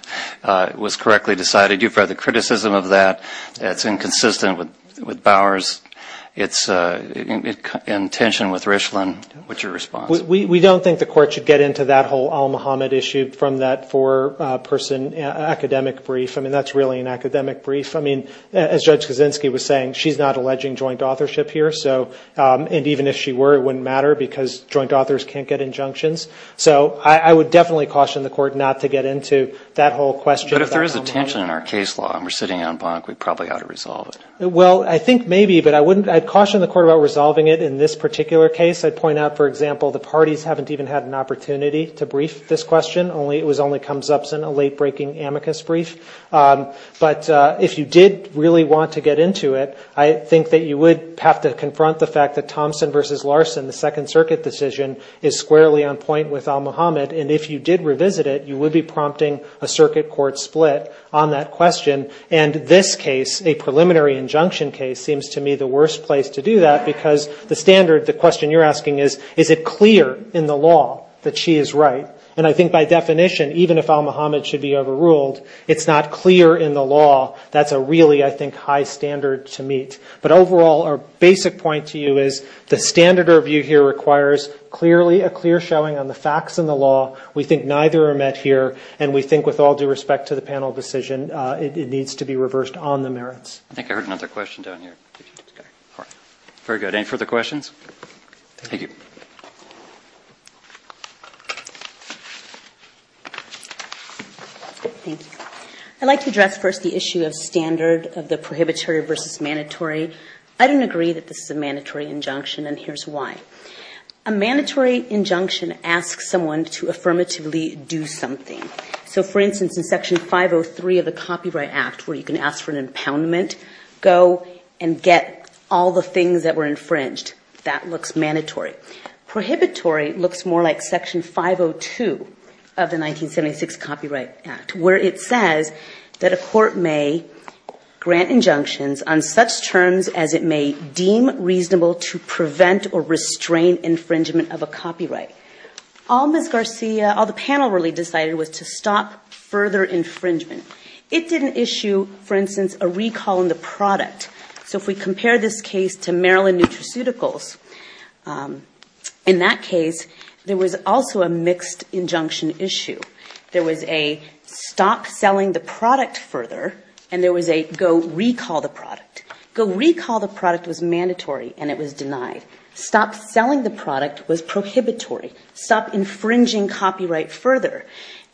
was correctly decided. You've read the criticism of that. It's inconsistent with Bower's. It's in tension with Richland. What's your response? »» We don't think the court should get into that whole Alma Hodman issue from that four-person academic brief. I mean, that's really an academic brief. I mean, as Judge Kaczynski was saying, she's not alleging joint authorship here. And even if she were, it wouldn't matter because joint authors can't get injunctions. So I would definitely caution the court not to get into that whole question. »» But if there is a tension in our case law and we're sitting on bunk, we probably ought to resolve it. »» Well, I think maybe, but I caution the court about resolving it in this particular case. I'd point out, for example, the parties haven't even had an opportunity to brief this question. It only comes up in a late-breaking amicus brief. But if you did really want to get into it, I think that you would have to confront the fact that Thompson v. Larson, the Second Circuit decision, is squarely on point with Alma Hodman. And if you did revisit it, you would be prompting a circuit court split on that question. And this case, a preliminary injunction case, seems to me the worst place to do that because the standard, the question you're asking is, is it clear in the law that she is right? And I think by definition, even if Alma Hodman should be overruled, it's not clear in the law that's a really, I think, high standard to meet. But overall, our standard review here requires clearly a clear showing on the facts in the law. We think neither are met here. And we think with all due respect to the panel decision, it needs to be reversed on the merits. »» I think I heard another question down here. Very good. Any further questions? Thank you. »» I'd like to address first the issue of standard of the prohibitory versus mandatory. I don't agree that this is a mandatory injunction, but here's why. A mandatory injunction asks someone to affirmatively do something. So, for instance, in Section 503 of the Copyright Act, where you can ask for an impoundment, go and get all the things that were infringed. That looks mandatory. Prohibitory looks more like Section 502 of the 1976 Copyright Act, where it says that a court may grant injunctions on such terms as it may deem reasonable to prevent or restrain infringement of a copyright. All Ms. Garcia, all the panel really decided was to stop further infringement. It didn't issue, for instance, a recall on the product. So if we compare this case to Maryland Nutraceuticals, in that case, there was also a mixed injunction issue. There was a stop selling the product further and there was a go recall the product. Go recall the product was mandatory and it was denied. So, stop selling the product was prohibitory. Stop infringing copyright further.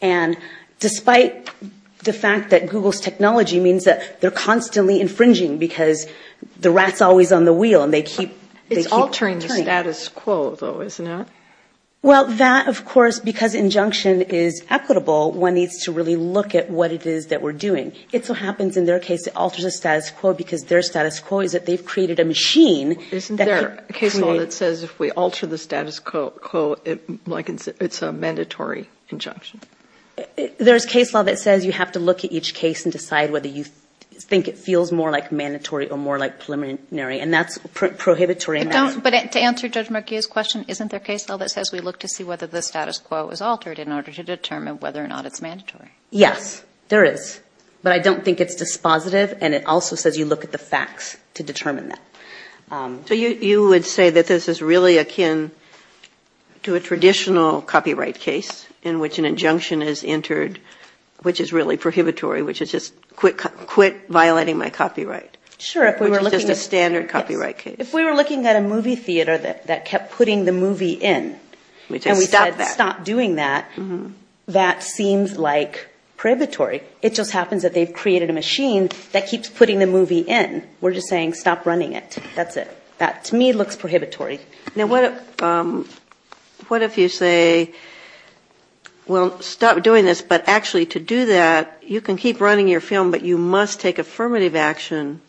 And despite the fact that Google's technology means that they're constantly infringing because the rat's always on the wheel and they keep turning. It's altering the status quo, though, isn't it? Well, that, of course, because injunction is equitable, one needs to really look at what it is that we're doing. It so happens in their case it alters the status quo because their status quo is that they've created a law that says if we alter the status quo, it's a mandatory injunction. There's case law that says you have to look at each case and decide whether you think it feels more like mandatory or more like preliminary. And that's prohibitory. But to answer Judge Murguia's question, isn't there case law that says we look to see whether the status quo is altered in order to determine whether or not it's mandatory? Yes, there is. But I don't think it's dispositive. And it also says you look at the facts to determine that. So you would say that this is really akin to a traditional copyright case in which an injunction is entered, which is really prohibitory, which is just quit violating my copyright. Sure. Which is just a standard copyright case. If we were looking at a movie theater that kept putting the movie in, and we said stop doing that, that seems like prohibitory. It just happens that they've created a machine that keeps putting the movie in. We're just saying stop running it. That's it. That, to me, looks prohibitory. Now what if you say, well, stop doing this, but actually to do that, you can keep running your film, but you must take affirmative action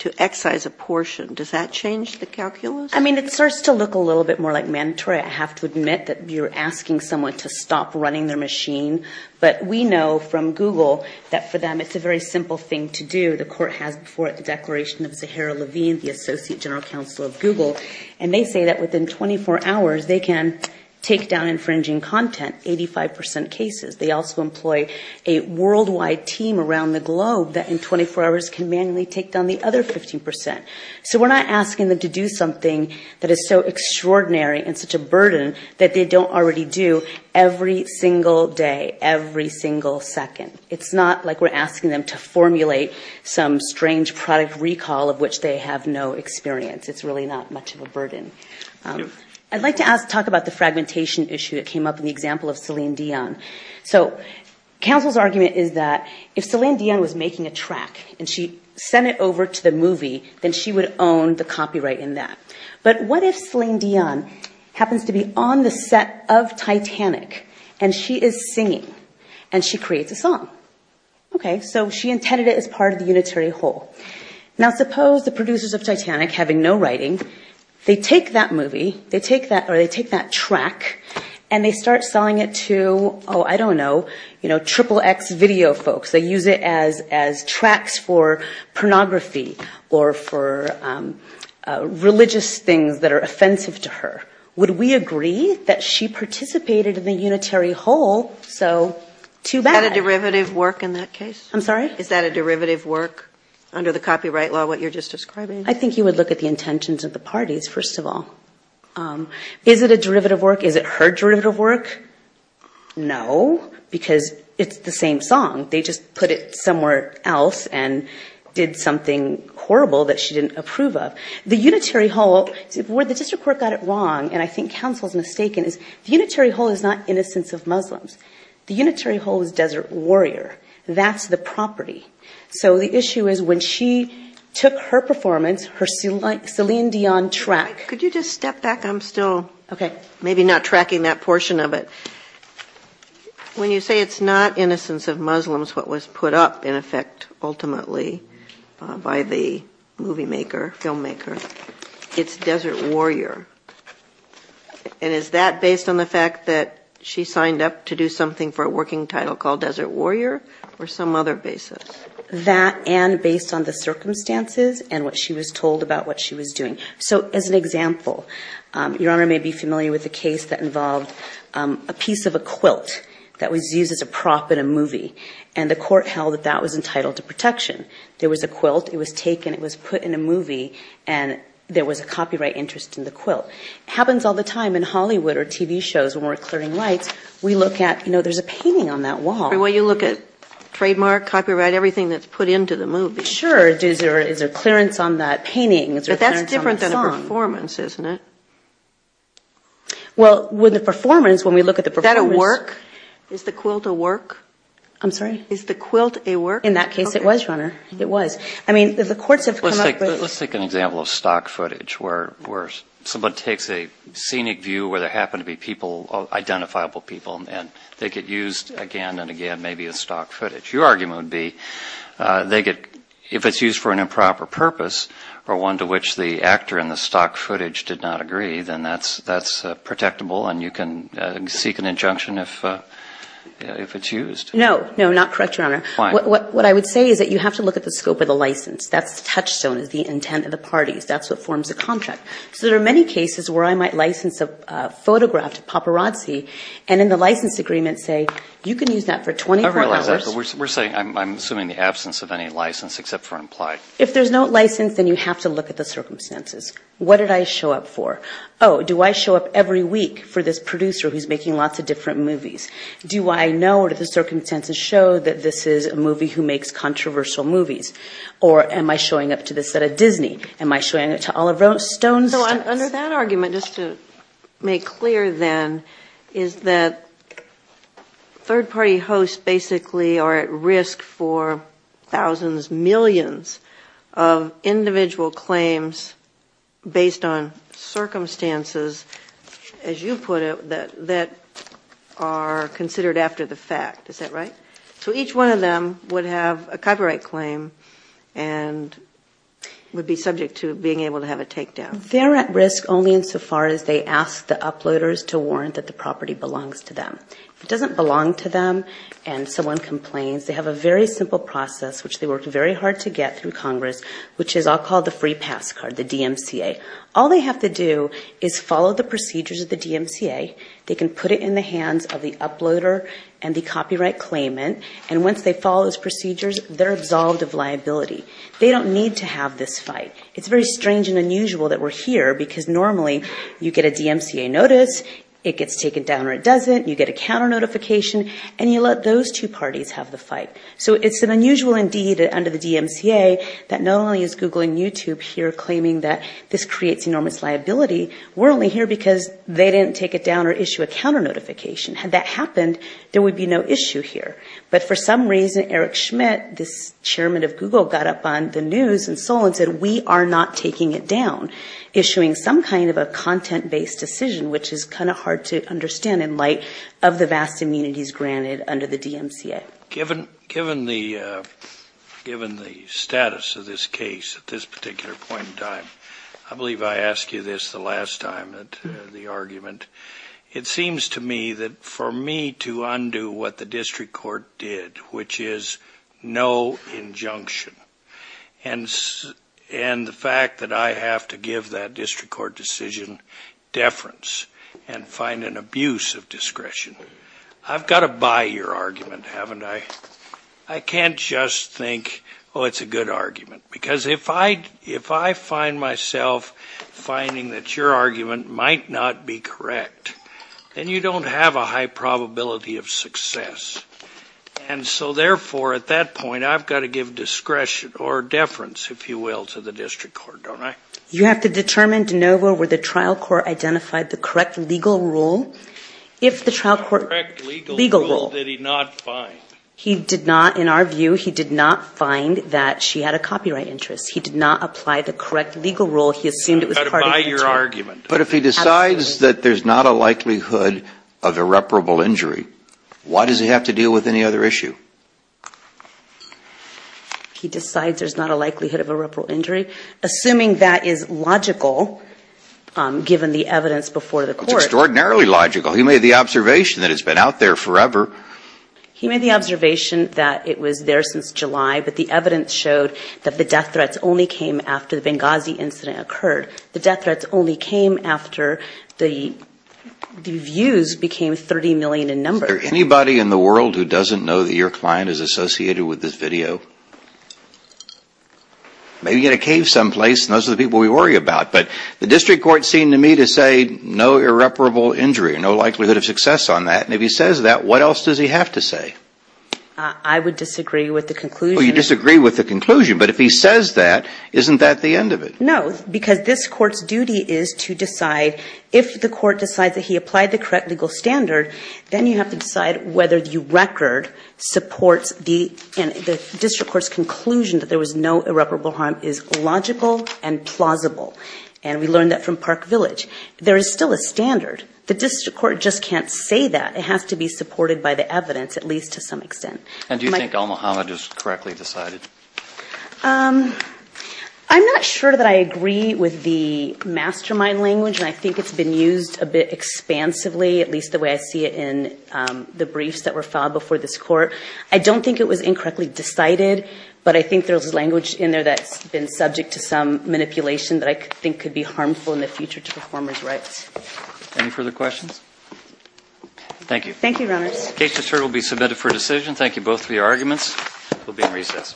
to excise a portion. Does that change the calculus? I mean, it starts to look a little bit more like mandatory. I have to admit that you're asking someone to stop running their machine. But we know from Google that for them it's a very simple thing to do. The court has done that before at the declaration of Zahara Levine, the associate general counsel of Google. And they say that within 24 hours they can take down infringing content, 85% cases. They also employ a worldwide team around the globe that in 24 hours can manually take down the other 15%. So we're not asking them to do something that is so extraordinary and such a burden that they don't already do every single day, every single second. It's not like we're asking them to formulate some strange product recall of which they have no experience. It's really not much of a burden. I'd like to talk about the fragmentation issue that came up in the example of Celine Dion. So counsel's argument is that if Celine Dion was making a track and she sent it over to the movie, then she would own the copyright in that. But what if Celine Dion happens to be on the set of Titanic, and she is singing, and she creates a song? Okay. So she intended it as part of the unitary whole. Now suppose the producers of Titanic, having no writing, they take that movie, or they take that track, and they start selling it to, oh, I don't know, you know, triple X video folks. They use it as tracks for pornography or for religious things that are offensive to her. Would we agree that she participated in the unitary whole? So too bad. Is that a derivative work in that case? I'm sorry? Is that a derivative work under the copyright law, what you're just describing? I think you would look at the intentions of the parties, first of all. Is it a derivative work? Is it her derivative work? No, because it's the same song. They just put it somewhere else and did something horrible that she didn't approve of. The unitary whole, where the district court got it wrong, and I think counsel's mistaken, is the unitary whole is not Desert Warrior. That's the property. So the issue is when she took her performance, her Celine Dion track. Could you just step back? I'm still maybe not tracking that portion of it. When you say it's not Innocence of Muslims what was put up, in effect, ultimately, by the movie maker, filmmaker, it's Desert Warrior. And is that based on the fact that she signed up to do something for a desert warrior or some other basis? That and based on the circumstances and what she was told about what she was doing. So as an example, Your Honor may be familiar with the case that involved a piece of a quilt that was used as a prop in a movie, and the court held that that was entitled to protection. There was a quilt, it was taken, it was put in a movie, and there was a copyright interest in the quilt. It happens all the time in Hollywood or TV shows when we're clearing lights. We look at, you know, there's a painting on that wall. When you look at trademark, copyright, everything that's put into the movie. Sure, is there clearance on that painting? But that's different than a performance, isn't it? Well, with a performance, when we look at the performance... Is that a work? Is the quilt a work? I'm sorry? Is the quilt a work? In that case it was, Your Honor. It was. I mean, the courts have come up with... Let's take an example of stock footage where someone takes a picture of an unidentifiable person and they get used again and again maybe as stock footage. Your argument would be, if it's used for an improper purpose or one to which the actor in the stock footage did not agree, then that's protectable and you can seek an injunction if it's used. No. No, not correct, Your Honor. Why? What I would say is that you have to look at the scope of the license. That's the touchstone. It's the intent of the parties. That's what forms a paparazzi. And in the license agreement, say, you can use that for 24 hours. I realize that, but we're saying I'm assuming the absence of any license except for implied. If there's no license, then you have to look at the circumstances. What did I show up for? Oh, do I show up every week for this producer who's making lots of different movies? Do I know or do the circumstances show that this is a movie who makes controversial movies? Or am I showing up to this at a Disney? Am I showing up to Oliver Stone's? Under that argument, just to make clear, then, is that third-party hosts basically are at risk for thousands, millions of individual claims based on circumstances, as you put it, that are considered after the fact. Is that right? So each one of them would have a copyright claim and would be subject to being able to have a takedown. They're at risk only in so far as they ask the uploaders to warrant that the property belongs to them. If it doesn't belong to them and someone complains, they have a very simple process, which they worked very hard to get through Congress, which is all called the free pass card, the DMCA. All they have to do is follow the procedures of the DMCA. They can put it in the hands of the uploader and the copyright claimant. And once they follow those procedures, they're absolved of liability. They don't need to have this fight. It's very strange and unusual that we're here, because normally you get a DMCA notice, it gets taken down or it doesn't, you get a counter notification, and you let those two parties have the fight. So it's an unusual, indeed, under the DMCA, that not only is Google and YouTube here claiming that this creates enormous liability, we're only here because they didn't take it down or issue a counter notification. Had that happened, there would be no issue here. But for some reason, Eric Schmidt, this chairman of Google, got up on the table and said, we are not taking it down, issuing some kind of a content based decision, which is kind of hard to understand in light of the vast immunities granted under the DMCA. Given the status of this case at this particular point in time, I believe I asked you this the last time at the argument. It seems to me that for me to undo what the district court did, which is no injunction, and the fact that I have to give that district court decision deference and find an abuse of discretion. I've got to buy your argument, haven't I? I can't just think, oh, it's a good argument. Because if I find myself finding that your argument might not be correct, then you don't have a high probability of success. And so, therefore, at that point, I've got to give discretion or deference, if you will, to the district court, don't I? You have to determine, DeNovo, where the trial court identified the correct legal rule. If the trial court legal rule that he did not find. He did not, in our view, he did not find that she had a copyright interest. He did not apply the correct legal rule. He assumed it was part of your argument. But if he decides that there's not a likelihood of irreparable injury, why does he have to deal with any other issue? He decides there's not a likelihood of irreparable injury. Assuming that is logical, given the evidence before the court. It's extraordinarily logical. He made the observation that it's been out there forever. He made the observation that it was there since July, but the evidence showed that the death threats only came after the Benghazi incident occurred. The death threats only came after the views became 30 million in numbers. Is there anybody in the world who doesn't know that your client is associated with this video? Maybe in a cave someplace, and those are the people we worry about. But the district court seemed to me to say no irreparable injury, no likelihood of success on that. And if he says that, what else does he have to say? I would disagree with the conclusion. Oh, you disagree with the conclusion. But if he says that, isn't that the end of it? No, because this court's duty is to decide, if the court decides that he has to decide whether the record supports the district court's conclusion that there was no irreparable harm is logical and plausible. And we learned that from Park Village. There is still a standard. The district court just can't say that. It has to be supported by the evidence, at least to some extent. And do you think Omohama just correctly decided? I'm not sure that I agree with the mastermind language, and I think it's been used a bit expansively, at least the way I see it in the briefs that were filed before this court. I don't think it was incorrectly decided, but I think there's language in there that's been subject to some manipulation that I think could be harmful in the future to performers' rights. Any further questions? Thank you. Thank you, Your Honors. The case is submitted for decision. Thank you both for your arguments. We'll be in recess.